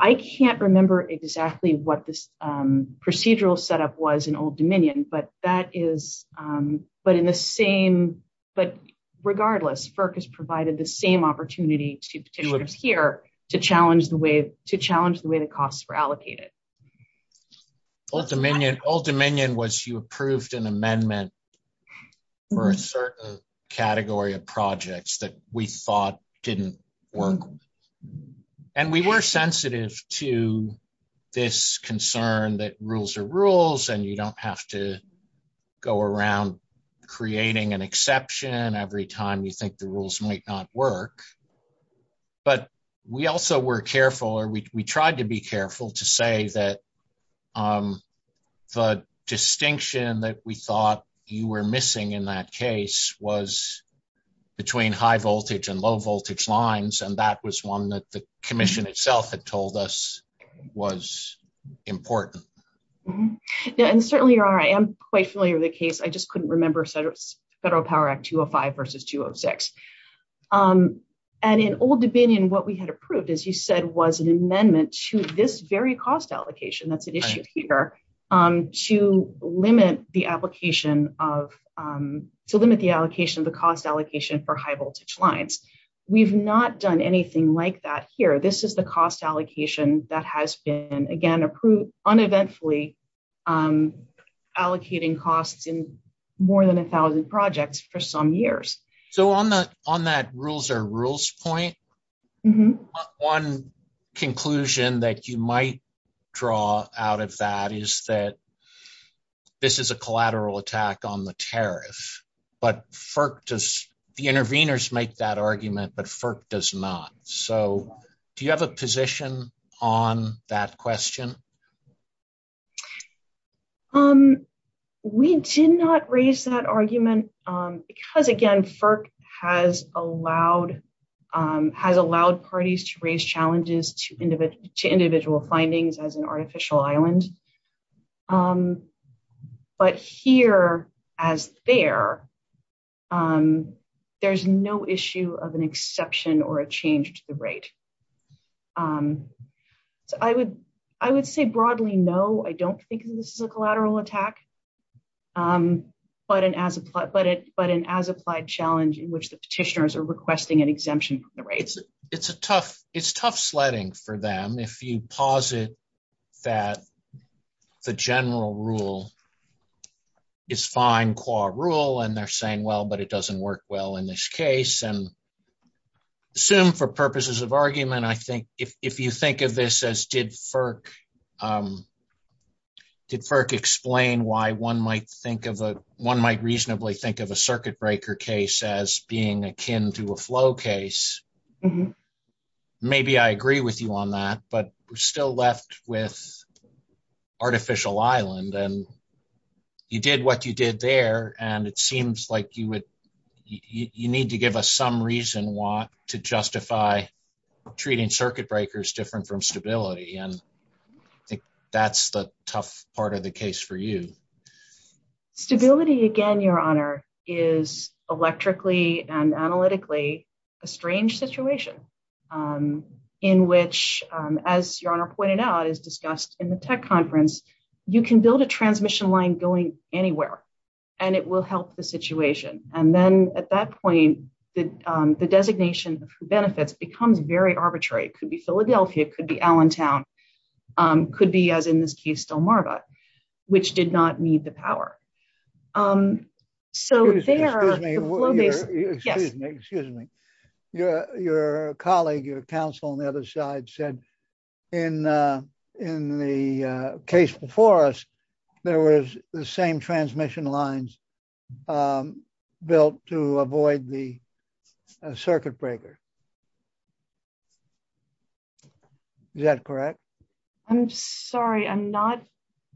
I can't remember exactly what this procedural setup was in Old Dominion, but that is – but in the same – but regardless, FERC has provided the same opportunity to us here to challenge the way – to challenge the way the costs were allocated. Old Dominion – Old Dominion was you approved an amendment for a certain category of projects that we thought didn't work. And we were sensitive to this concern that rules are rules and you don't have to go around creating an exception every time you think the rules might not work. But we also were careful or we tried to be careful to say that the distinction that we thought you were missing in that case was between high voltage and low voltage lines and that was one that the commission itself had told us was important. Yeah, and certainly you're right. I'm quite familiar with the case. I just couldn't remember Federal Power Act 205 versus 206. And in Old Dominion what we had approved as you said was an amendment to this very cost allocation that's at issue here to limit the application of – to limit the allocation of the cost allocation for high voltage lines. We've not done anything like that here. This is the cost allocation that has been again approved uneventfully allocating costs in more than 1,000 projects for some years. So on that rules are rules point, one conclusion that you might draw out of that is that this is a collateral attack on the tariff but FERC does – the intervenors make that argument but FERC does not. So do you have a position on that question? We did not raise that argument because again FERC has allowed parties to raise challenges to individual findings as an artificial island. But here as there there's no issue of an exception or a change to the rate. So I would say broadly no. I don't think this is a collateral attack but an as applied challenge in which the petitioners are requesting an exemption from the rates. It's a tough – it's tough sledding for them if you posit that the general rule is fine qua rule and they're saying well but it doesn't work well in this case. And assume for purposes of argument I think if you think of this as did FERC explain why one might reasonably think of a circuit breaker case as being akin to a flow case maybe I agree with you on that. But we're still left with artificial island and you did what you did there and it seems like you would – you need to give us some reason why to justify treating circuit breakers different from stability. And I think that's the tough part of the case for you. Stability again your honor is electrically and analytically a strange situation in which as your honor pointed out as discussed in the tech conference you can build a transmission line going anywhere and it will help the situation. And then at that point the designation benefits becomes very arbitrary. It could be Philadelphia. It could be Allentown. Could be as in this case Delmarva which did not need the power. So they are – Excuse me. Your colleague, your counsel on the other side said in the case before us there was the same transmission lines built to avoid the circuit breaker. Is that correct? I'm sorry I'm not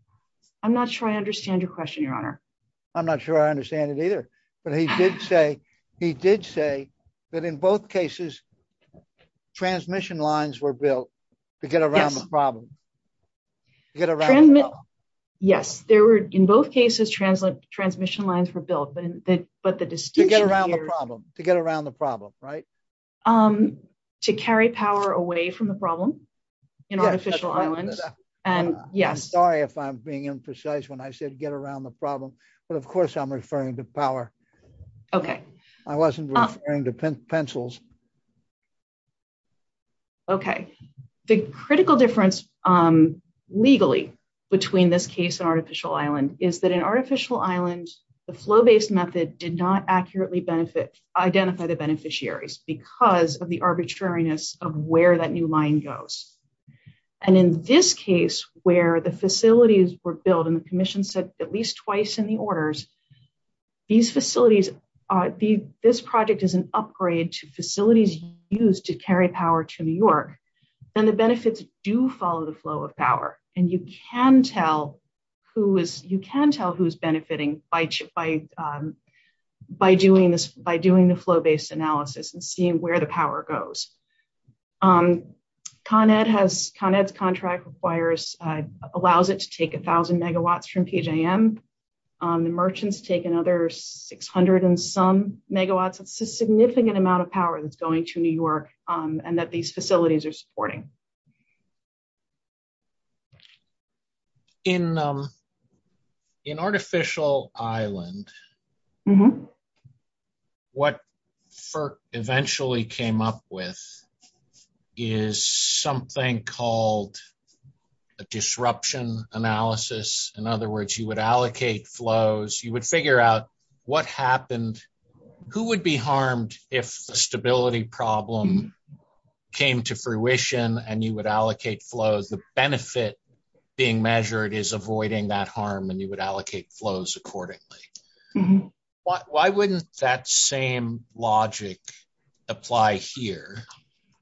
– I'm not sure I understand your question your honor. I'm not sure I understand it either. But he did say that in both cases transmission lines were built to get around the problem. Get around the problem. Yes. There were in both cases transmission lines were built. But the distinction here – To get around the problem, right? To carry power away from the problem in artificial islands and yes. Sorry if I'm being imprecise when I said get around the problem. But of course I'm referring to power. Okay. I wasn't referring to pencils. Okay. The critical difference legally between this case and artificial island is that in artificial islands the flow-based method did not accurately identify the beneficiaries because of the arbitrariness of where that new line goes. And in this case where the facilities were built and the commission said at least twice in the orders these facilities – this project is an upgrade to facilities used to carry power to New York. And the benefits do follow the flow of power. And you can tell who is – you can tell who is benefiting by doing the flow-based analysis and seeing where the power goes. Con Ed has – Con Ed's contract requires – allows it to take 1,000 megawatts from PJM. The merchants take another 600 and some megawatts. It's a significant amount of power that's going to New York and that these facilities are supporting. In artificial island what FERC eventually came up with is something called a disruption analysis. In other words you would allocate flows. You would figure out what happened. Who would be harmed if a stability problem came to fruition and you would allocate flows? The benefit being measured is avoiding that harm and you would allocate flows accordingly. Why wouldn't that same logic apply here?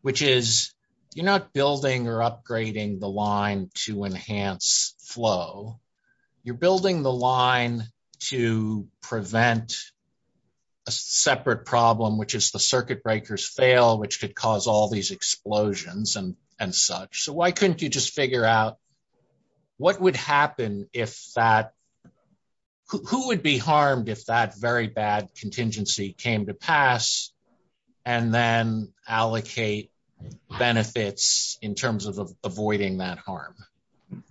Which is you're not building or upgrading the line to enhance flow. You're building the line to prevent a separate problem which is the circuit breakers fail which could cause all these explosions and such. So why couldn't you just figure out what would happen if that – who would be harmed if that very bad contingency came to pass and then allocate benefits in terms of avoiding that harm?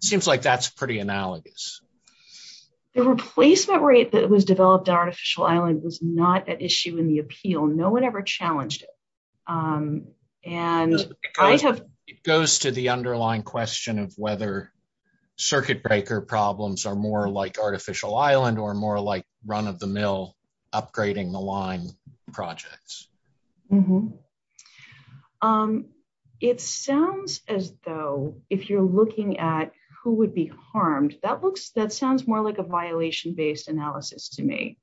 Seems like that's pretty analogous. The replacement rate that was developed in artificial island was not an issue in the appeal. No one ever challenged it. It goes to the underlying question of whether circuit breaker problems are more like artificial island or more like run-of-the-mill upgrading the line projects. It sounds as though if you're looking at who would be harmed, that sounds more like a violation-based analysis to me.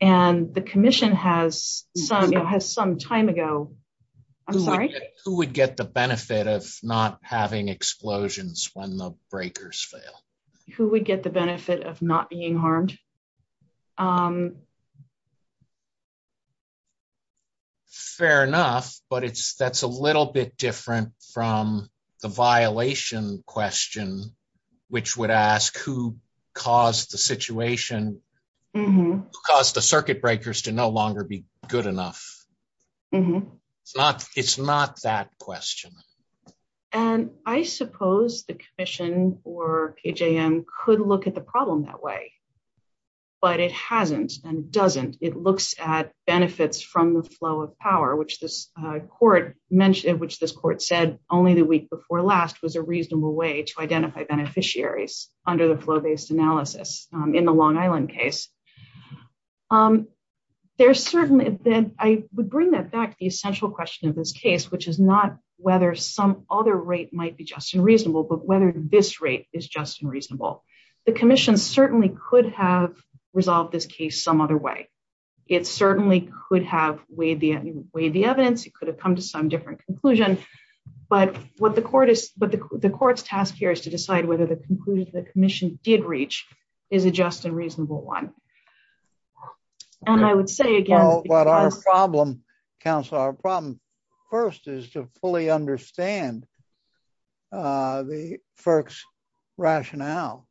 And the commission has some time ago – I'm sorry? Who would get the benefit of not having explosions when the breakers fail? Who would get the benefit of not being harmed? Fair enough, but that's a little bit different from the violation question which would ask who caused the situation – who caused the circuit breakers to no longer be good enough. It's not that question. And I suppose the commission or AJM could look at the problem that way, but it hasn't and doesn't. It looks at benefits from the flow of power, which this court said only the week before last was a reasonable way to identify beneficiaries under the flow-based analysis in the Long Island case. There's certain – I would bring that back to the essential question of this case, which is not whether some other rate might be just and reasonable, but whether this rate is just and reasonable. The commission certainly could have resolved this case some other way. It certainly could have weighed the evidence. It could have come to some different conclusion. But what the court is – the court's task here is to decide whether the conclusion the commission did reach is a just and reasonable one. And I would say again – Counselor, our problem first is to fully understand the FERC's rationale.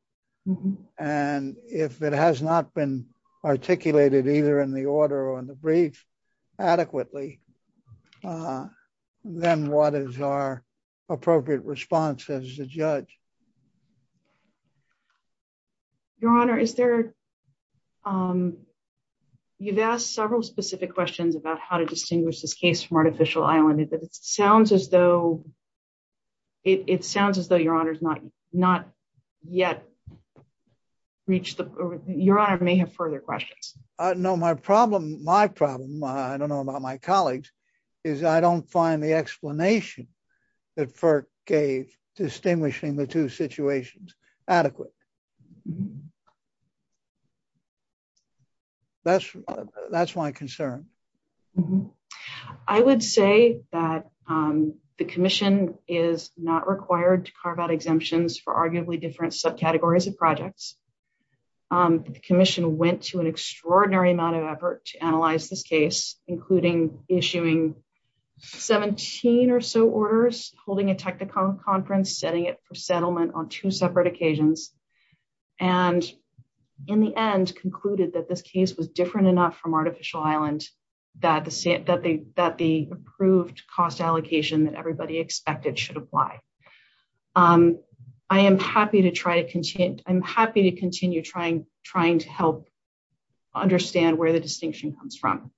And if it has not been articulated either in the order or in the brief adequately, then what is our appropriate response as a judge? Your Honor, is there – you've asked several specific questions about how to distinguish this case from Artificial Island. It sounds as though – it sounds as though, Your Honor, it's not yet reached – Your Honor may have further questions. No, my problem – my problem – I don't know about my colleagues – is I don't find the explanation that FERC gave distinguishing the two situations adequate. That's my concern. I would say that the commission is not required to carve out exemptions for arguably different subcategories of projects. The commission went to an extraordinary amount of effort to analyze this case, including issuing 17 or so orders, holding a technical conference, setting it for settlement on two separate occasions, and in the end concluded that this case was different enough from Artificial Island that the approved cost allocation that everybody expected should apply. I am happy to try to – I'm happy to continue trying to help understand where the distinction comes from.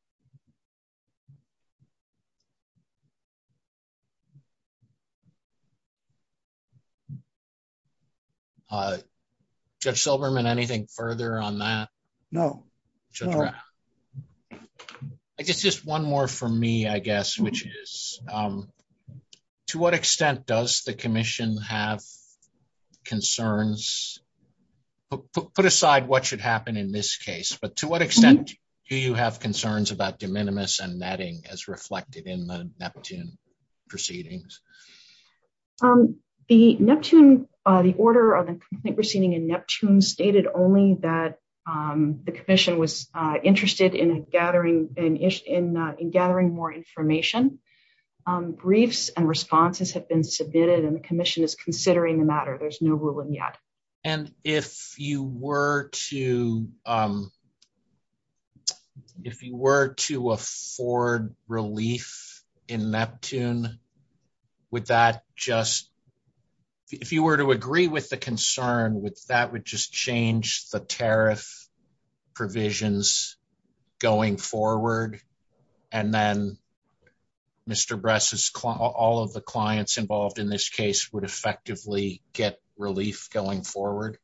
Judge Silberman, anything further on that? No. I guess just one more for me, I guess, which is to what extent does the commission have concerns – put aside what should happen in this case, but to what extent do you have as reflected in the Neptune proceedings? The Neptune – the order of the complaint proceeding in Neptune stated only that the commission was interested in gathering more information. Briefs and responses have been submitted, and the commission is considering the matter. There's no ruling yet. And if you were to – if you were to afford relief in Neptune, would that just – if you were to agree with the concern, would that just change the tariff provisions going forward, and then Mr. Bress's – all of the clients involved in this case would effectively get relief going forward?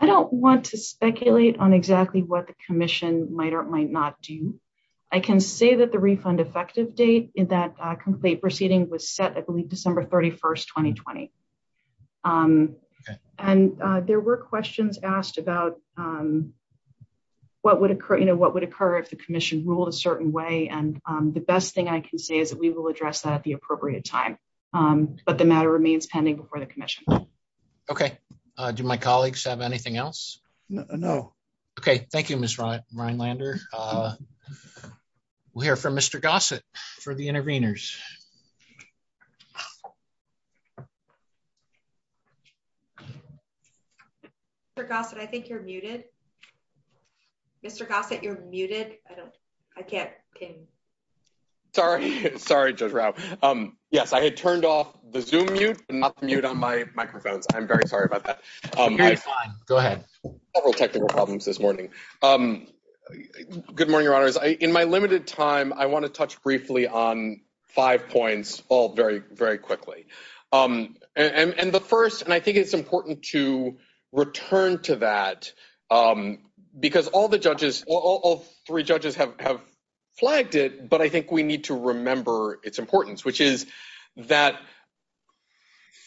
I don't want to speculate on exactly what the commission might or might not do. I can say that the refund effective date in that complaint proceeding was set, I believe, December 31st, 2020. And there were questions asked about what would occur if the commission ruled a certain way, and the best thing I can say is that we will address that at the appropriate time. But the matter remains pending before the commission. Okay. Do my colleagues have anything else? No. Okay. Thank you, Ms. Rhinelander. We'll hear from Mr. Gossett for the interveners. Mr. Gossett, I think you're muted. Mr. Gossett, you're muted. I can't hear you. Sorry. Sorry to interrupt. Yes, I had turned off the Zoom mute and not the mute on my microphone. I'm very sorry about that. Go ahead. Several technical problems this morning. Good morning, Your Honors. In my limited time, I want to touch briefly on five points, all very, very quickly. And the first – and I think it's important to return to that because all the judges – all three judges have flagged it, but I think we need to remember its importance, which is that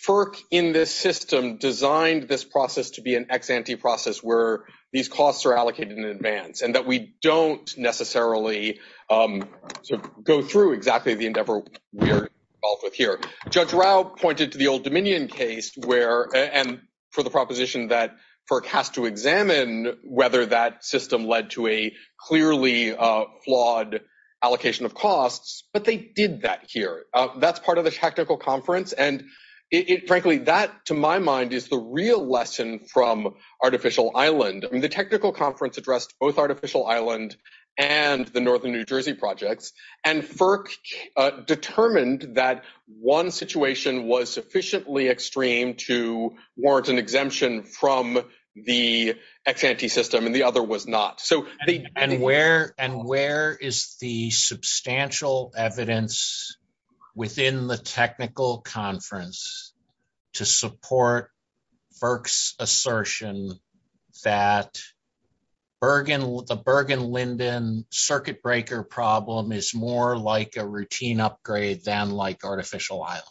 FERC in this system designed this process to be an ex-ante process where these costs are allocated in advance and that we don't necessarily go through exactly the endeavor we're involved with here. Judge Rao pointed to the old Dominion case where – and for the proposition that FERC has to examine whether that system led to a clearly flawed allocation of costs, but they did that here. That's part of the technical conference, and frankly, that, to my mind, is the real lesson from Artificial Island. The technical conference addressed both Artificial Island and the Northern New Jersey project, and FERC determined that one situation was sufficiently extreme to an exemption from the ex-ante system, and the other was not. So, the – And where is the substantial evidence within the technical conference to support Burke's assertion that the Bergen-Linden circuit breaker problem is more like a routine upgrade than like Artificial Island?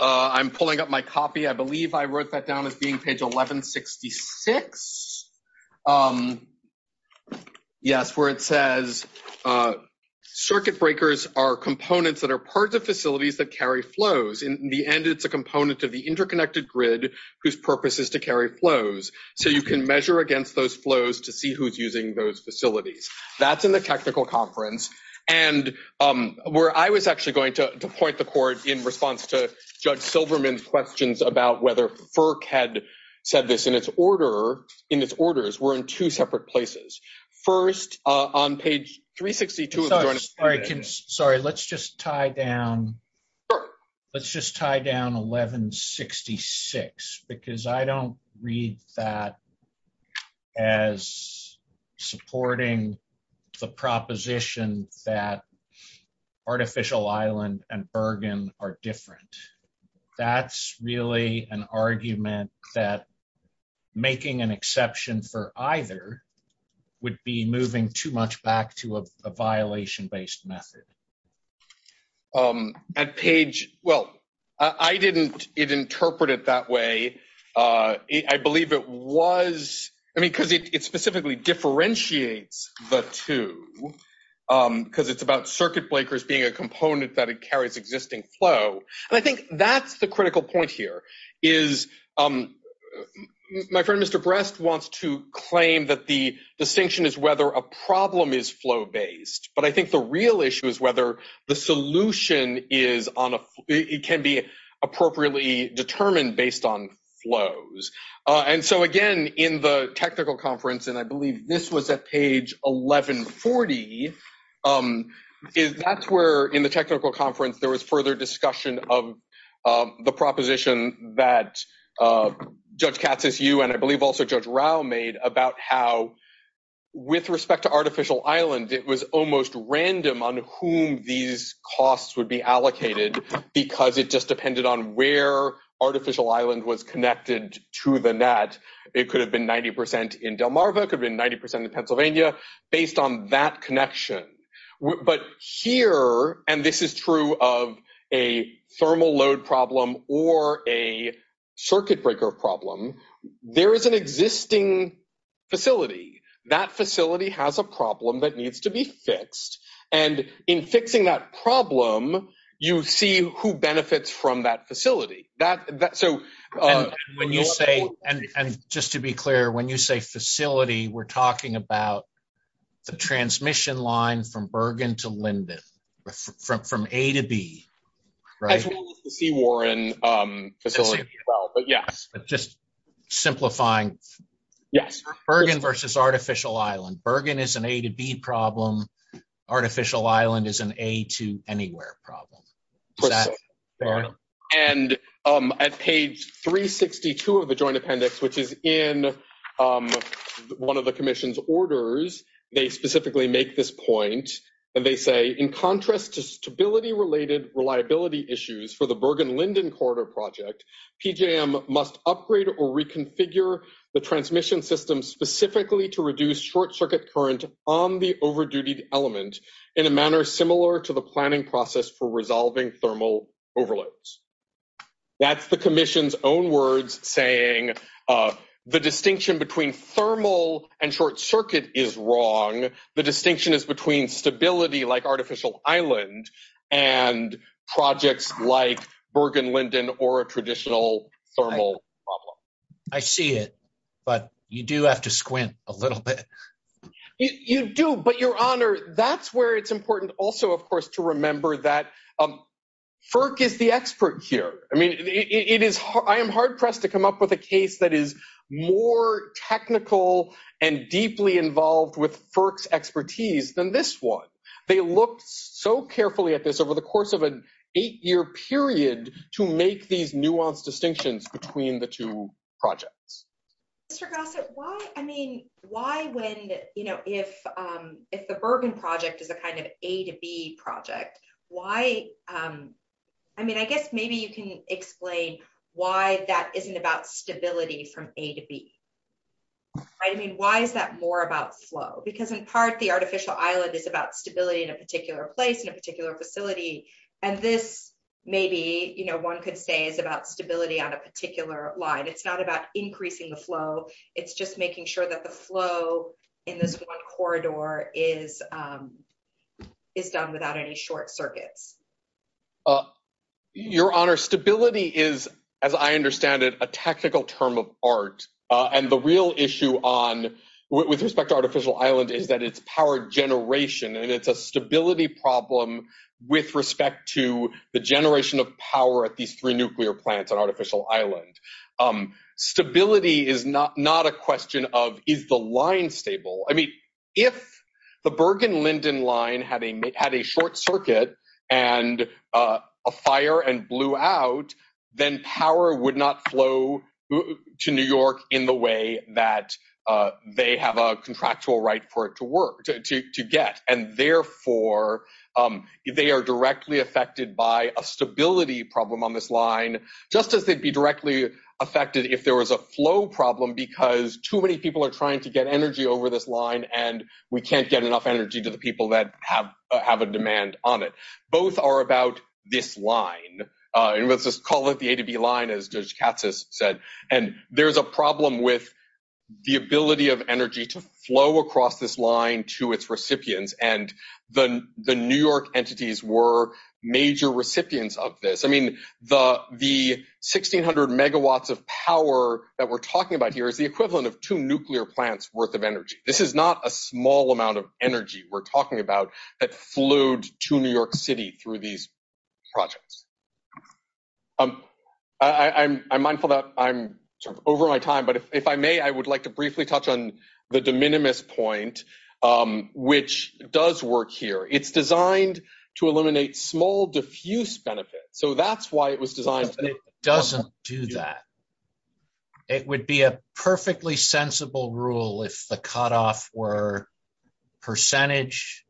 I'm pulling up my copy. I believe I wrote that down as being page 1166. Yes, where it says, circuit breakers are components that are part of facilities that carry flows. In the end, it's a component of the interconnected grid whose purpose is to carry flows. So, you can measure against those flows to see who's using those facilities. That's in the technical conference. And where I was actually going to point the court in response to Judge Silverman's questions about whether FERC had said this in its order, in its orders, were in two separate places. First, on page 362 of the – Sure. that Artificial Island and Bergen are different. That's really an argument that making an exception for either would be moving too much back to a violation-based method. At page – well, I didn't interpret it that way. I believe it was – I mean, because it specifically differentiates the two. Because it's about circuit breakers being a component that carries existing flow. And I think that's the critical point here, is my friend Mr. Brest wants to claim that the distinction is whether a problem is flow-based. But I think the real issue is whether the solution is on a – it can be appropriately determined based on flows. And so, again, in the technical conference, and I believe this was at page 1140, is that's where, in the technical conference, there was further discussion of the proposition that Judge Katsas, you, and I believe also Judge Rao made about how, with respect to Artificial Island, it was almost random on whom these costs would be allocated because it just depended on where Artificial Island was connected to the net. It could have been 90 percent in Delmarva, it could have been 90 percent in Pennsylvania. Based on that connection. But here, and this is true of a thermal load problem or a circuit breaker problem, there is an existing facility. That facility has a problem that needs to be fixed. And in fixing that problem, you see who benefits from that facility. That – so – When you say – and just to be clear, when you say facility, we're talking about the transmission line from Bergen to Linden. From A to B, right? As well as the Seawarren facility as well. But yeah. Just simplifying. Yes. Bergen versus Artificial Island. Bergen is an A to B problem. Artificial Island is an A to anywhere problem. Correct. And at page 362 of the Joint Appendix, which is in one of the Commission's orders, they specifically make this point. And they say, in contrast to stability-related reliability issues for the Bergen-Linden Corridor Project, PJM must upgrade or reconfigure the transmission system specifically to reduce short-circuit current on the overdue element in a manner similar to the planning process for resolving thermal overloads. That's the Commission's own words saying the distinction between thermal and short-circuit is wrong. The distinction is between stability, like Artificial Island, and projects like Bergen-Linden or a traditional thermal problem. I see it. But you do have to squint a little bit. You do. But, Your Honor, that's where it's important also, of course, to remember that FERC is the expert here. I mean, I am hard-pressed to come up with a case that is more technical and deeply involved with FERC's expertise than this one. They looked so carefully at this over the course of an eight-year period to make these nuanced distinctions between the two projects. Mr. Gossett, why, I mean, why when, you know, if the Bergen project is a kind of A to B project, why, I mean, I guess maybe you can explain why that isn't about stability from A to B. I mean, why is that more about flow? Because in part, the Artificial Island is about stability in a particular place, in a particular facility, and this maybe, you know, one could say is about stability on a particular line. It's not about increasing the flow. It's just making sure that the flow in this one corridor is done without any short circuits. Your Honor, stability is, as I understand it, a technical term of art, and the real issue on, with respect to Artificial Island, is that it's power generation, and it's a stability problem with respect to the generation of power at these three nuclear plants on Artificial Island. Stability is not a question of is the line stable. I mean, if the Bergen-Linden line had a short circuit and a fire and blew out, then power would not flow to New York in the way that they have a contractual right for it to work, to get. And therefore, they are directly affected by a stability problem on this line, just as they'd be directly affected if there was a flow problem because too many people are trying to get energy over this line, and we can't get enough energy to the people that have a demand on it. Both are about this line, and let's just call it the A to B line, as Judge Katz has said, and there's a problem with the ability of energy to flow across this line to its recipients, and the New York entities were major recipients of this. I mean, the 1600 megawatts of power that we're talking about here is the equivalent of two nuclear plants' worth of energy. This is not a small amount of energy we're talking about that flowed to New York City through these projects. I'm mindful that I'm sort of over my time, but if I may, I would like to briefly touch on the de minimis point, which does work here. It's designed to eliminate small diffuse benefits, so that's why it was designed. It doesn't do that. It would be a perfectly sensible rule if the cutoff were percentage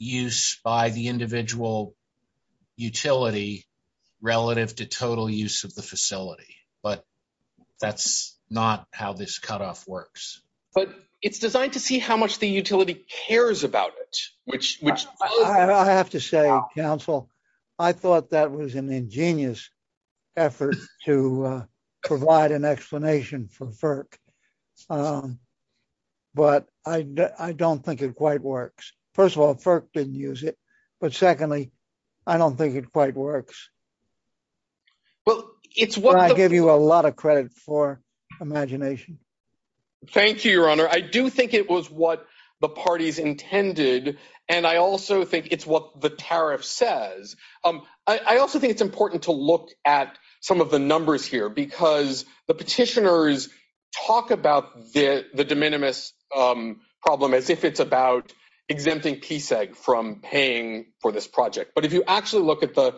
use by the individual utility relative to total use of the facility, but that's not how this cutoff works. But it's designed to see how much the utility cares about it, which- I have to say, counsel, I thought that was an ingenious effort to provide an explanation for FERC, but I don't think it quite works. First of all, FERC didn't use it, but secondly, I don't think it quite works. Well, it's- I give you a lot of credit for imagination. Thank you, Your Honor. I do think it was what the parties intended, and I also think it's what the tariff says. I also think it's important to look at some of the numbers here, because the petitioners talk about the de minimis problem as if it's about exempting PSEG from paying for this project. If you actually look at the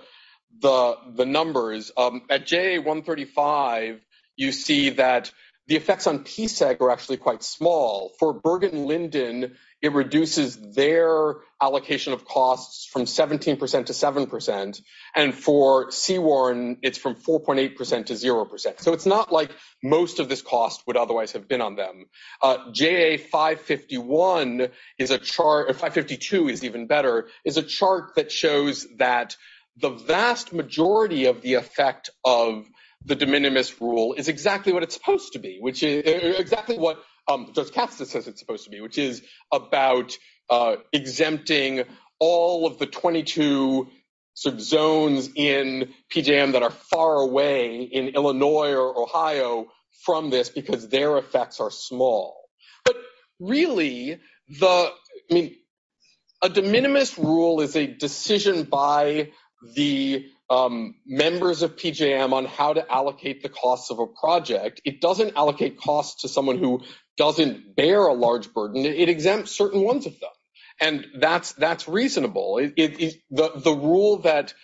numbers, at JA135, you see that the effects on PSEG are actually quite small. For Bergen Linden, it reduces their allocation of costs from 17% to 7%, and for Seawarren, it's from 4.8% to 0%. So it's not like most of this cost would otherwise have been on them. JA551 is a chart- in fact, 52 is even better- is a chart that shows that the vast majority of the effect of the de minimis rule is exactly what it's supposed to be, which is- exactly what- Justice Katsas says it's supposed to be, which is about exempting all of the 22 zones in PJM that are far away in Illinois or Ohio from this, because their effects are small. But really, the- I mean, a de minimis rule is a decision by the members of PJM on how to allocate the costs of a project. It doesn't allocate costs to someone who doesn't bear a large burden. It exempts certain ones of them, and that's reasonable. The rule that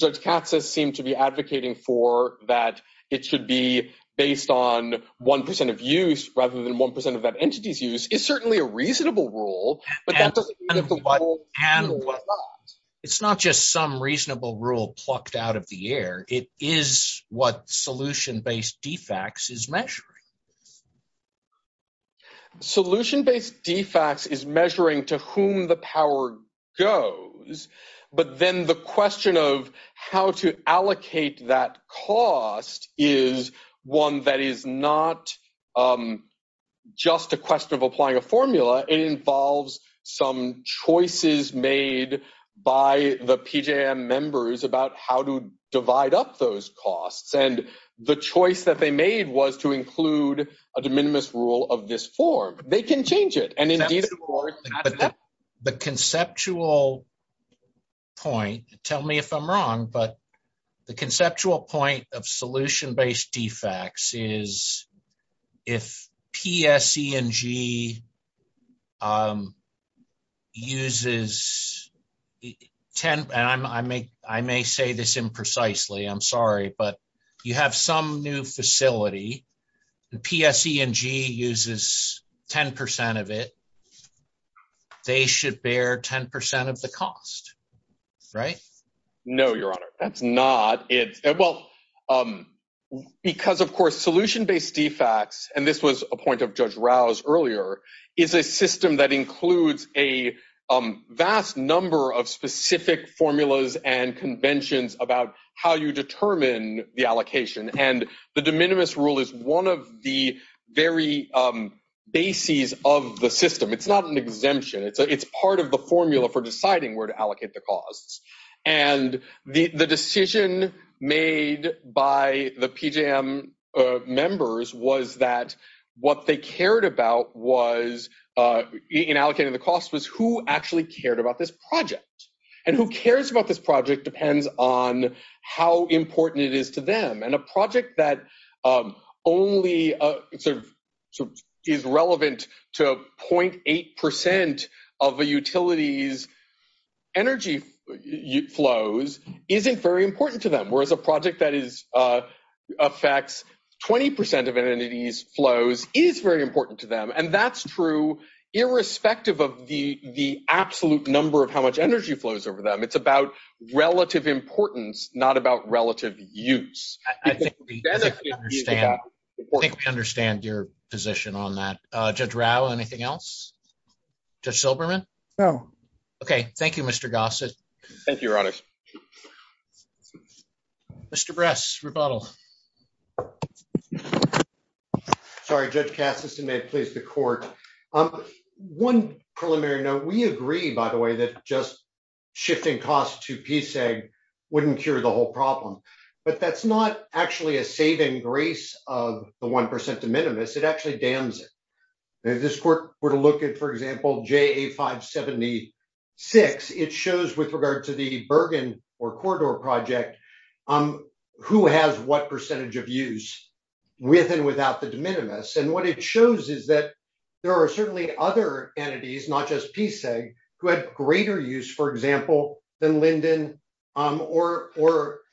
Justice Katsas seems to be advocating for, that it should be based on 1% of use rather than 1% of that entity's use, is certainly a reasonable rule, but that doesn't mean it's a rule to do what not. It's not just some reasonable rule plucked out of the air. It is what solution-based defects is measuring. Solution-based defects is measuring to whom the power goes, but then the question of how to allocate that cost is one that is not just a question of applying a formula. It involves some choices made by the PJM members about how to divide up those costs, and the choice that they made was to include a de minimis rule of this form. They can change it, and indeed, of course- The conceptual point, tell me if I'm wrong, but the conceptual point of solution-based defects is if PSE&G uses, and I may say this imprecisely, I'm sorry, but you have some new facility, the PSE&G uses 10% of it, they should bear 10% of the cost, right? No, Your Honor, that's not it. Well, because, of course, solution-based defects, and this was a point of Judge Rouse earlier, is a system that includes a vast number of specific formulas and conventions about how you determine the allocation, and the de minimis rule is one of the very bases of the system. It's not an exemption. It's part of the formula for deciding where to allocate the costs, and the decision made by the PJM members was that what they cared about in allocating the cost was who actually depends on how important it is to them, and a project that only is relevant to 0.8% of a utility's energy flows isn't very important to them, whereas a project that affects 20% of an entity's flows is very important to them, and that's true irrespective of the absolute number of how much energy flows over them. It's about relative importance, not about relative use. I think we understand your position on that. Judge Rouse, anything else? Judge Silberman? No. Okay. Thank you, Mr. Gossett. Thank you, Your Honor. Mr. Bress, rebuttal. Sorry, Judge Cass, if you may, please, the court. On one preliminary note, we agree, by the way, that just shifting costs to PSAG wouldn't cure the whole problem, but that's not actually a saving grace of the 1% de minimis. It actually dams it. If this court were to look at, for example, JA576, it shows, with regard to the Bergen or Corridor project, who has what percentage of use with and without the de minimis, and what it shows is that there are certainly other entities, not just PSAG, who had greater use, for example, than Linden or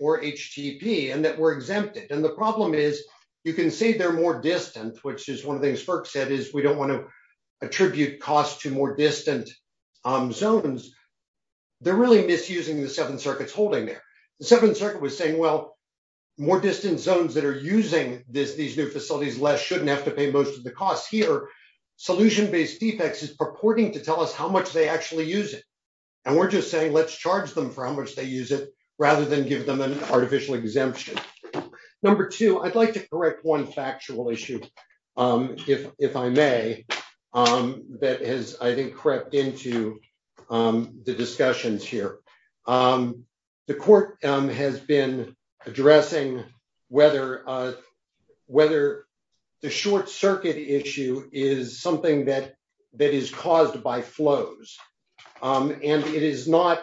HTTP, and that were exempted. The problem is, you can say they're more distant, which is one of the things FERC said, is we don't want to attribute costs to more distant zones. They're really misusing the seven circuits holding there. The seventh circuit was saying, well, more distant zones that are using these new facilities less shouldn't have to pay most of the costs. Here, solution-based defects is purporting to tell us how much they actually use it, and we're just saying let's charge them for how much they use it rather than give them an artificial exemption. Number two, I'd like to correct one factual issue, if I may, that has, I think, crept into the discussions here. The court has been addressing whether the short circuit issue is something that is caused by flows, and it is not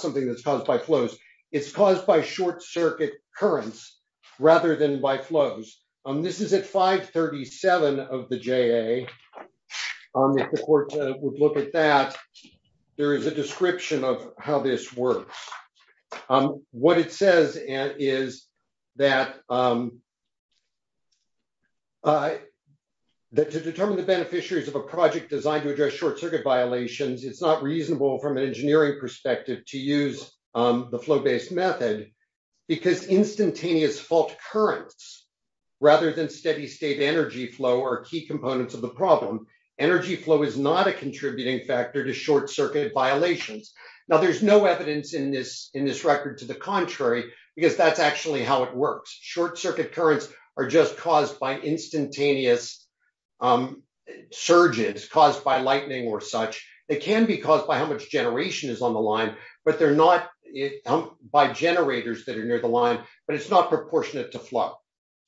something that's caused by flows. It's caused by short circuit currents rather than by flows. This is at 537 of the JA. If the court would look at that, there is a description of how this works. What it says is that to determine the beneficiaries of a project designed to address short circuit violations, it's not reasonable from an engineering perspective to use the flow-based method because instantaneous fault currents, rather than steady-state energy flow, are key components of the problem. Energy flow is not a contributing factor to short circuit violations. Now, there's no evidence in this record to the contrary, because that's actually how it works. Short circuit currents are just caused by instantaneous surges, caused by lightning or such. It can be caused by how much generation is on the line, but they're not by generators that are near the line, but it's not proportionate to flow.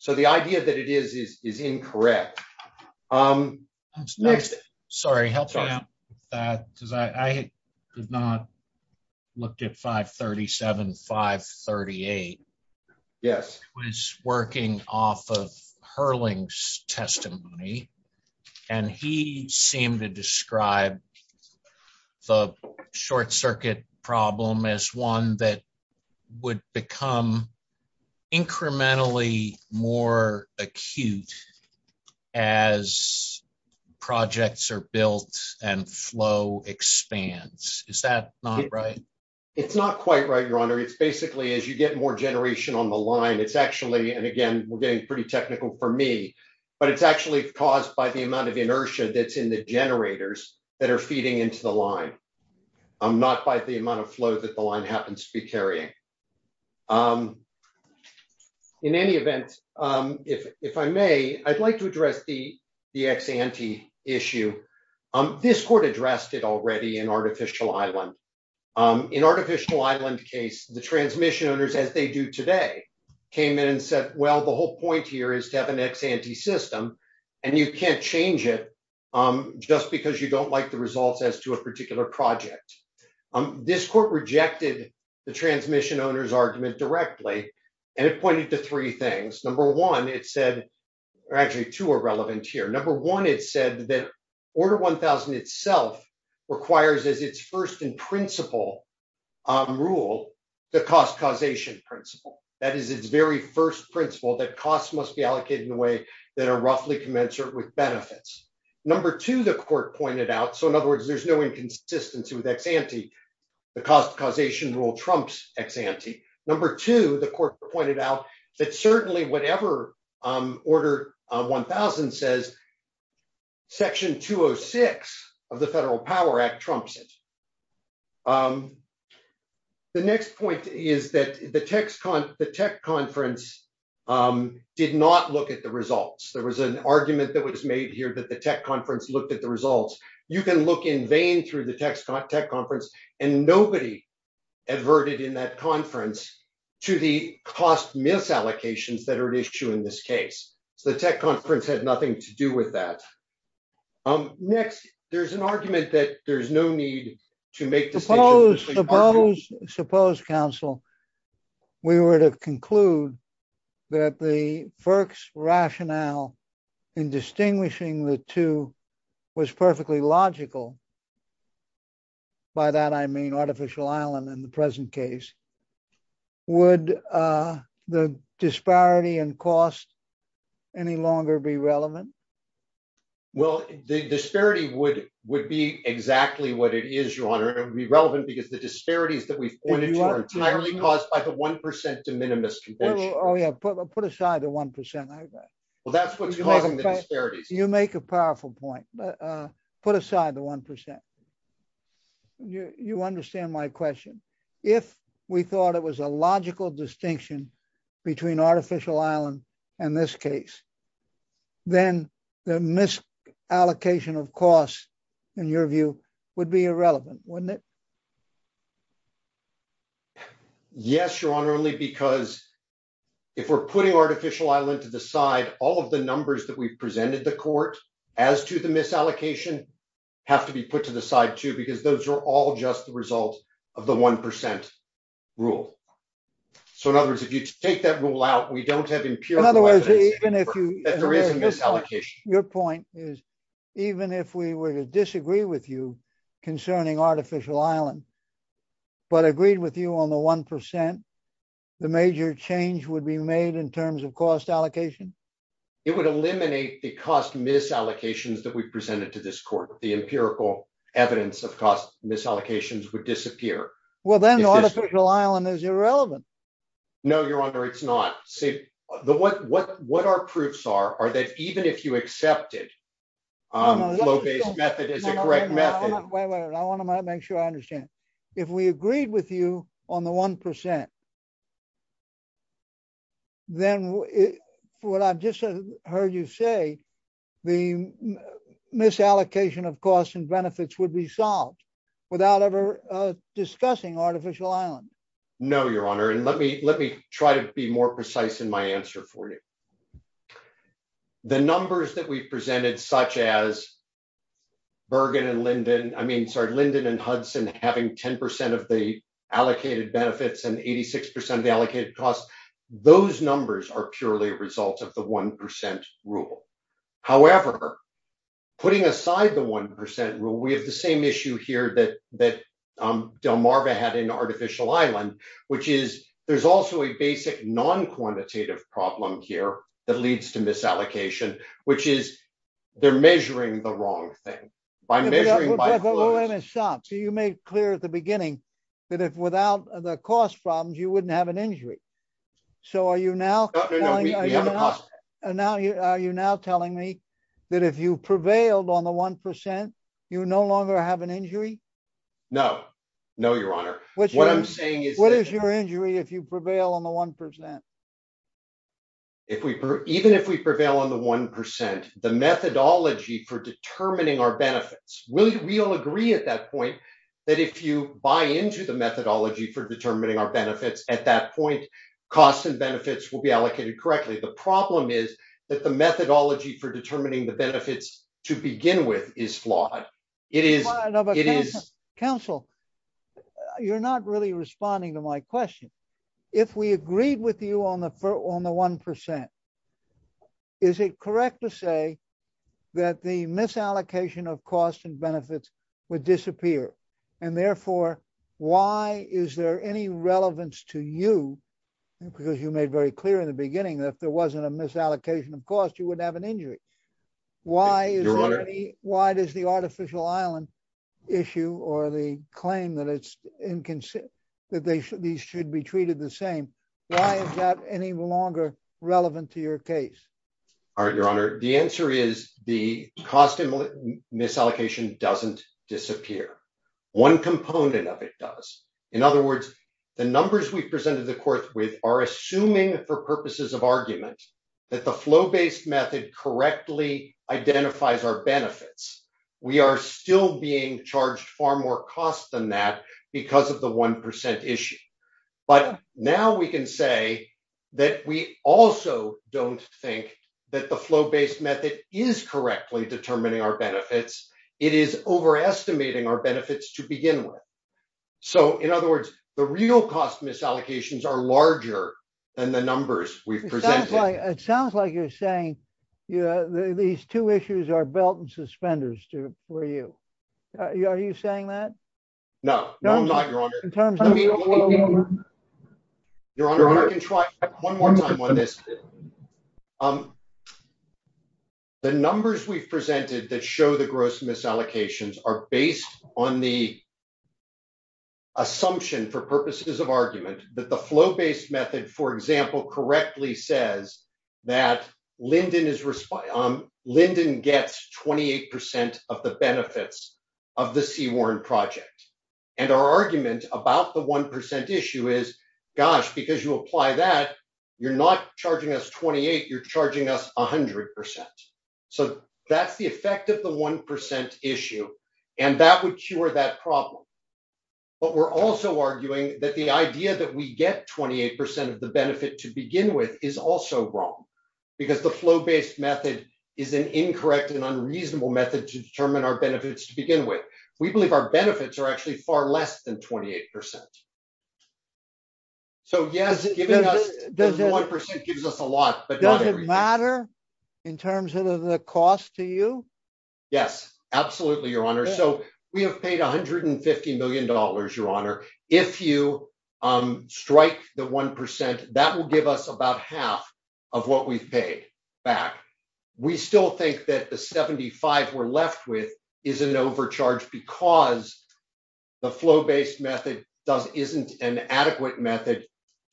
So, the idea that it is is incorrect. Sorry, help me out with that, because I could not look at 537, 538. Yes. Was working off of Hurling's testimony, and he seemed to describe the short circuit problem as one that would become incrementally more acute as projects are built and flow expands. Is that not right? It's not quite right, Your Honor. It's basically, as you get more generation on the line, it's actually, and again, we're getting pretty technical for me, but it's actually caused by the amount of inertia that's in the generators that are feeding into the line. Not by the amount of flow that the line happens to be carrying. In any event, if I may, I'd like to address the ex-ante issue. This court addressed it already in Artificial Island. In Artificial Island case, the transmission owners, as they do today, came in and said, well, the whole point here is to have an ex-ante system, and you can't change it just because you don't like the results as to a particular project. This court rejected the transmission owner's argument directly, and it pointed to three things. Number one, it said, or actually two are relevant here. Number one, it said that Order 1000 itself requires as its first in principle rule, the cost causation principle. That is its very first principle that costs must be allocated in a way that are roughly commensurate with benefits. Number two, the court pointed out, so in other words, there's no inconsistency with ex-ante. The cost causation rule trumps ex-ante. Number two, the court pointed out that certainly whatever Order 1000 says, Section 206 of the Federal Power Act trumps it. The next point is that the tech conference did not look at the results. There was an argument that was made here that the tech conference looked at the results. You can look in vain through the tech conference, and nobody adverted in that conference to the cost misallocations that are at issue in this case. The tech conference had nothing to do with that. Next, there's an argument that there's no need to make the same— Suppose, counsel, we were to conclude that the FERC's rationale in distinguishing the two was perfectly logical. By that, I mean artificial island in the present case. Would the disparity in cost any longer be relevant? Well, the disparity would be exactly what it is, Your Honor. It would be relevant because the disparities that we've pointed to are entirely caused by the 1% de minimis convention. Oh, yeah. Put aside the 1%, I guess. Well, that's what's causing the disparities. You make a powerful point. Put aside the 1%. You understand my question. If we thought it was a logical distinction between artificial island and this case, then the misallocation of cost, in your view, would be irrelevant, wouldn't it? Yes, Your Honor, only because if we're putting artificial island to the side, all of the numbers that we've presented the court as to the misallocation have to be put to the side, too, because those are all just the results of the 1% rule. So, in other words, if you take that rule out, we don't have— In other words, even if you— Well, then the artificial island is irrelevant. No, Your Honor, it's not. What our proofs are, are that even if you accepted Flaubert's method as a correct method— I want to make sure I understand. If we agreed with you on the 1%, then what I've just heard you say, the misallocation of costs and benefits would be solved without ever discussing artificial island. No, Your Honor, and let me try to be more precise in my answer for you. The numbers that we've presented, such as Bergen and Linden— I mean, sorry, Linden and Hudson having 10% of the allocated benefits and 86% of the allocated costs, those numbers are purely results of the 1% rule. However, putting aside the 1% rule, we have the same issue here that Delmarva had in artificial island, which is there's also a basic non-quantitative problem here. That leads to misallocation, which is they're measuring the wrong thing. By measuring— Wait a minute, stop. So you made clear at the beginning that without the cost problems, you wouldn't have an injury. So are you now telling me that if you prevailed on the 1%, you no longer have an injury? No, no, Your Honor. What I'm saying is— What is your injury if you prevail on the 1%? Even if we prevail on the 1%, the methodology for determining our benefits— we'll agree at that point that if you buy into the methodology for determining our benefits, at that point, costs and benefits will be allocated correctly. The problem is that the methodology for determining the benefits to begin with is flawed. It is— No, but counsel, you're not really responding to my question. If we agreed with you on the 1%, is it correct to say that the misallocation of costs and benefits would disappear? And therefore, why is there any relevance to you? Because you made very clear in the beginning that if there wasn't a misallocation of cost, you wouldn't have an injury. Why is there any— Your Honor. Your Honor, the answer is the cost and misallocation doesn't disappear. One component of it does. In other words, the numbers we presented the court with are assuming, for purposes of argument, that the flow-based method correctly identifies our benefits. We are still being charged far more cost than that because of the 1% issue. But now we can say that we also don't think that the flow-based method is correctly determining our benefits. It is overestimating our benefits to begin with. So, in other words, the real cost misallocations are larger than the numbers we presented. It sounds like you're saying these two issues are belt and suspenders for you. Are you saying that? No, I'm not, Your Honor. Your Honor, I can try one more time on this. The numbers we presented that show the gross misallocations are based on the assumption, for purposes of argument, that the flow-based method, for example, correctly says that Linden gets 28% of the benefits of the Seward Project. And our argument about the 1% issue is, gosh, because you apply that, you're not charging us 28%, you're charging us 100%. So that's the effect of the 1% issue. And that would cure that problem. But we're also arguing that the idea that we get 28% of the benefit to begin with is also wrong, because the flow-based method is an incorrect and unreasonable method to determine our benefits to begin with. We believe our benefits are actually far less than 28%. So, yes, the 1% gives us a lot. Does it matter in terms of the cost to you? Yes, absolutely, Your Honor. So, we have paid $150 million, Your Honor. If you strike the 1%, that will give us about half of what we've paid back. We still think that the 75 we're left with is an overcharge because the flow-based method isn't an adequate method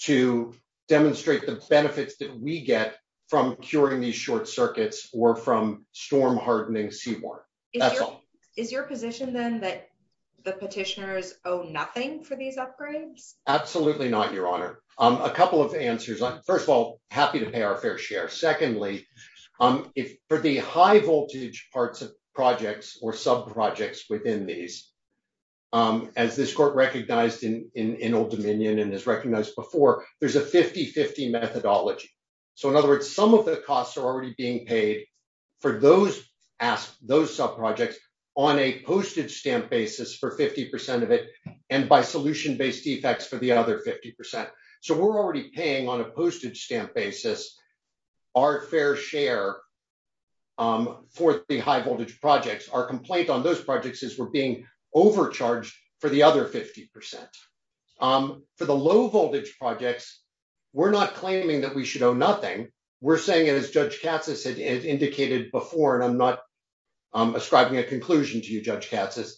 to demonstrate the benefits that we get from curing these short circuits or from storm-hardening Seward. Is your position, then, that the petitioners owe nothing for these upgrades? Absolutely not, Your Honor. A couple of answers. First of all, happy to pay our fair share. Secondly, for the high-voltage parts of projects or sub-projects within these, as this Court recognized in Old Dominion and has recognized before, there's a 50-50 methodology. So, in other words, some of the costs are already being paid for those sub-projects on a postage stamp basis for 50% of it and by solution-based defects for the other 50%. So, we're already paying on a postage stamp basis our fair share for the high-voltage projects. Our complaint on those projects is we're being overcharged for the other 50%. For the low-voltage projects, we're not claiming that we should owe nothing. We're saying, as Judge Cassis has indicated before, and I'm not ascribing a conclusion to you, Judge Cassis,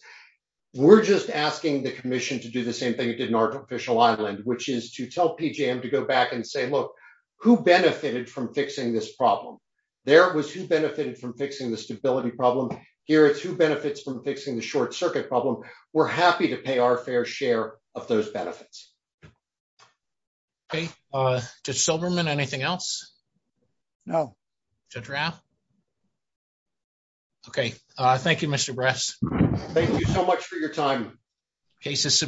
we're just asking the Commission to do the same thing it did in Artificial Island, which is to tell PJM to go back and say, look, who benefited from fixing this problem? There was who benefited from fixing the stability problem. Here are two benefits from fixing the short circuit problem. We're happy to pay our fair share of those benefits. Okay. Judge Silverman, anything else? No. Judge Raff? Okay. Thank you, Mr. Bress. Thank you so much for your time. Case is submitted.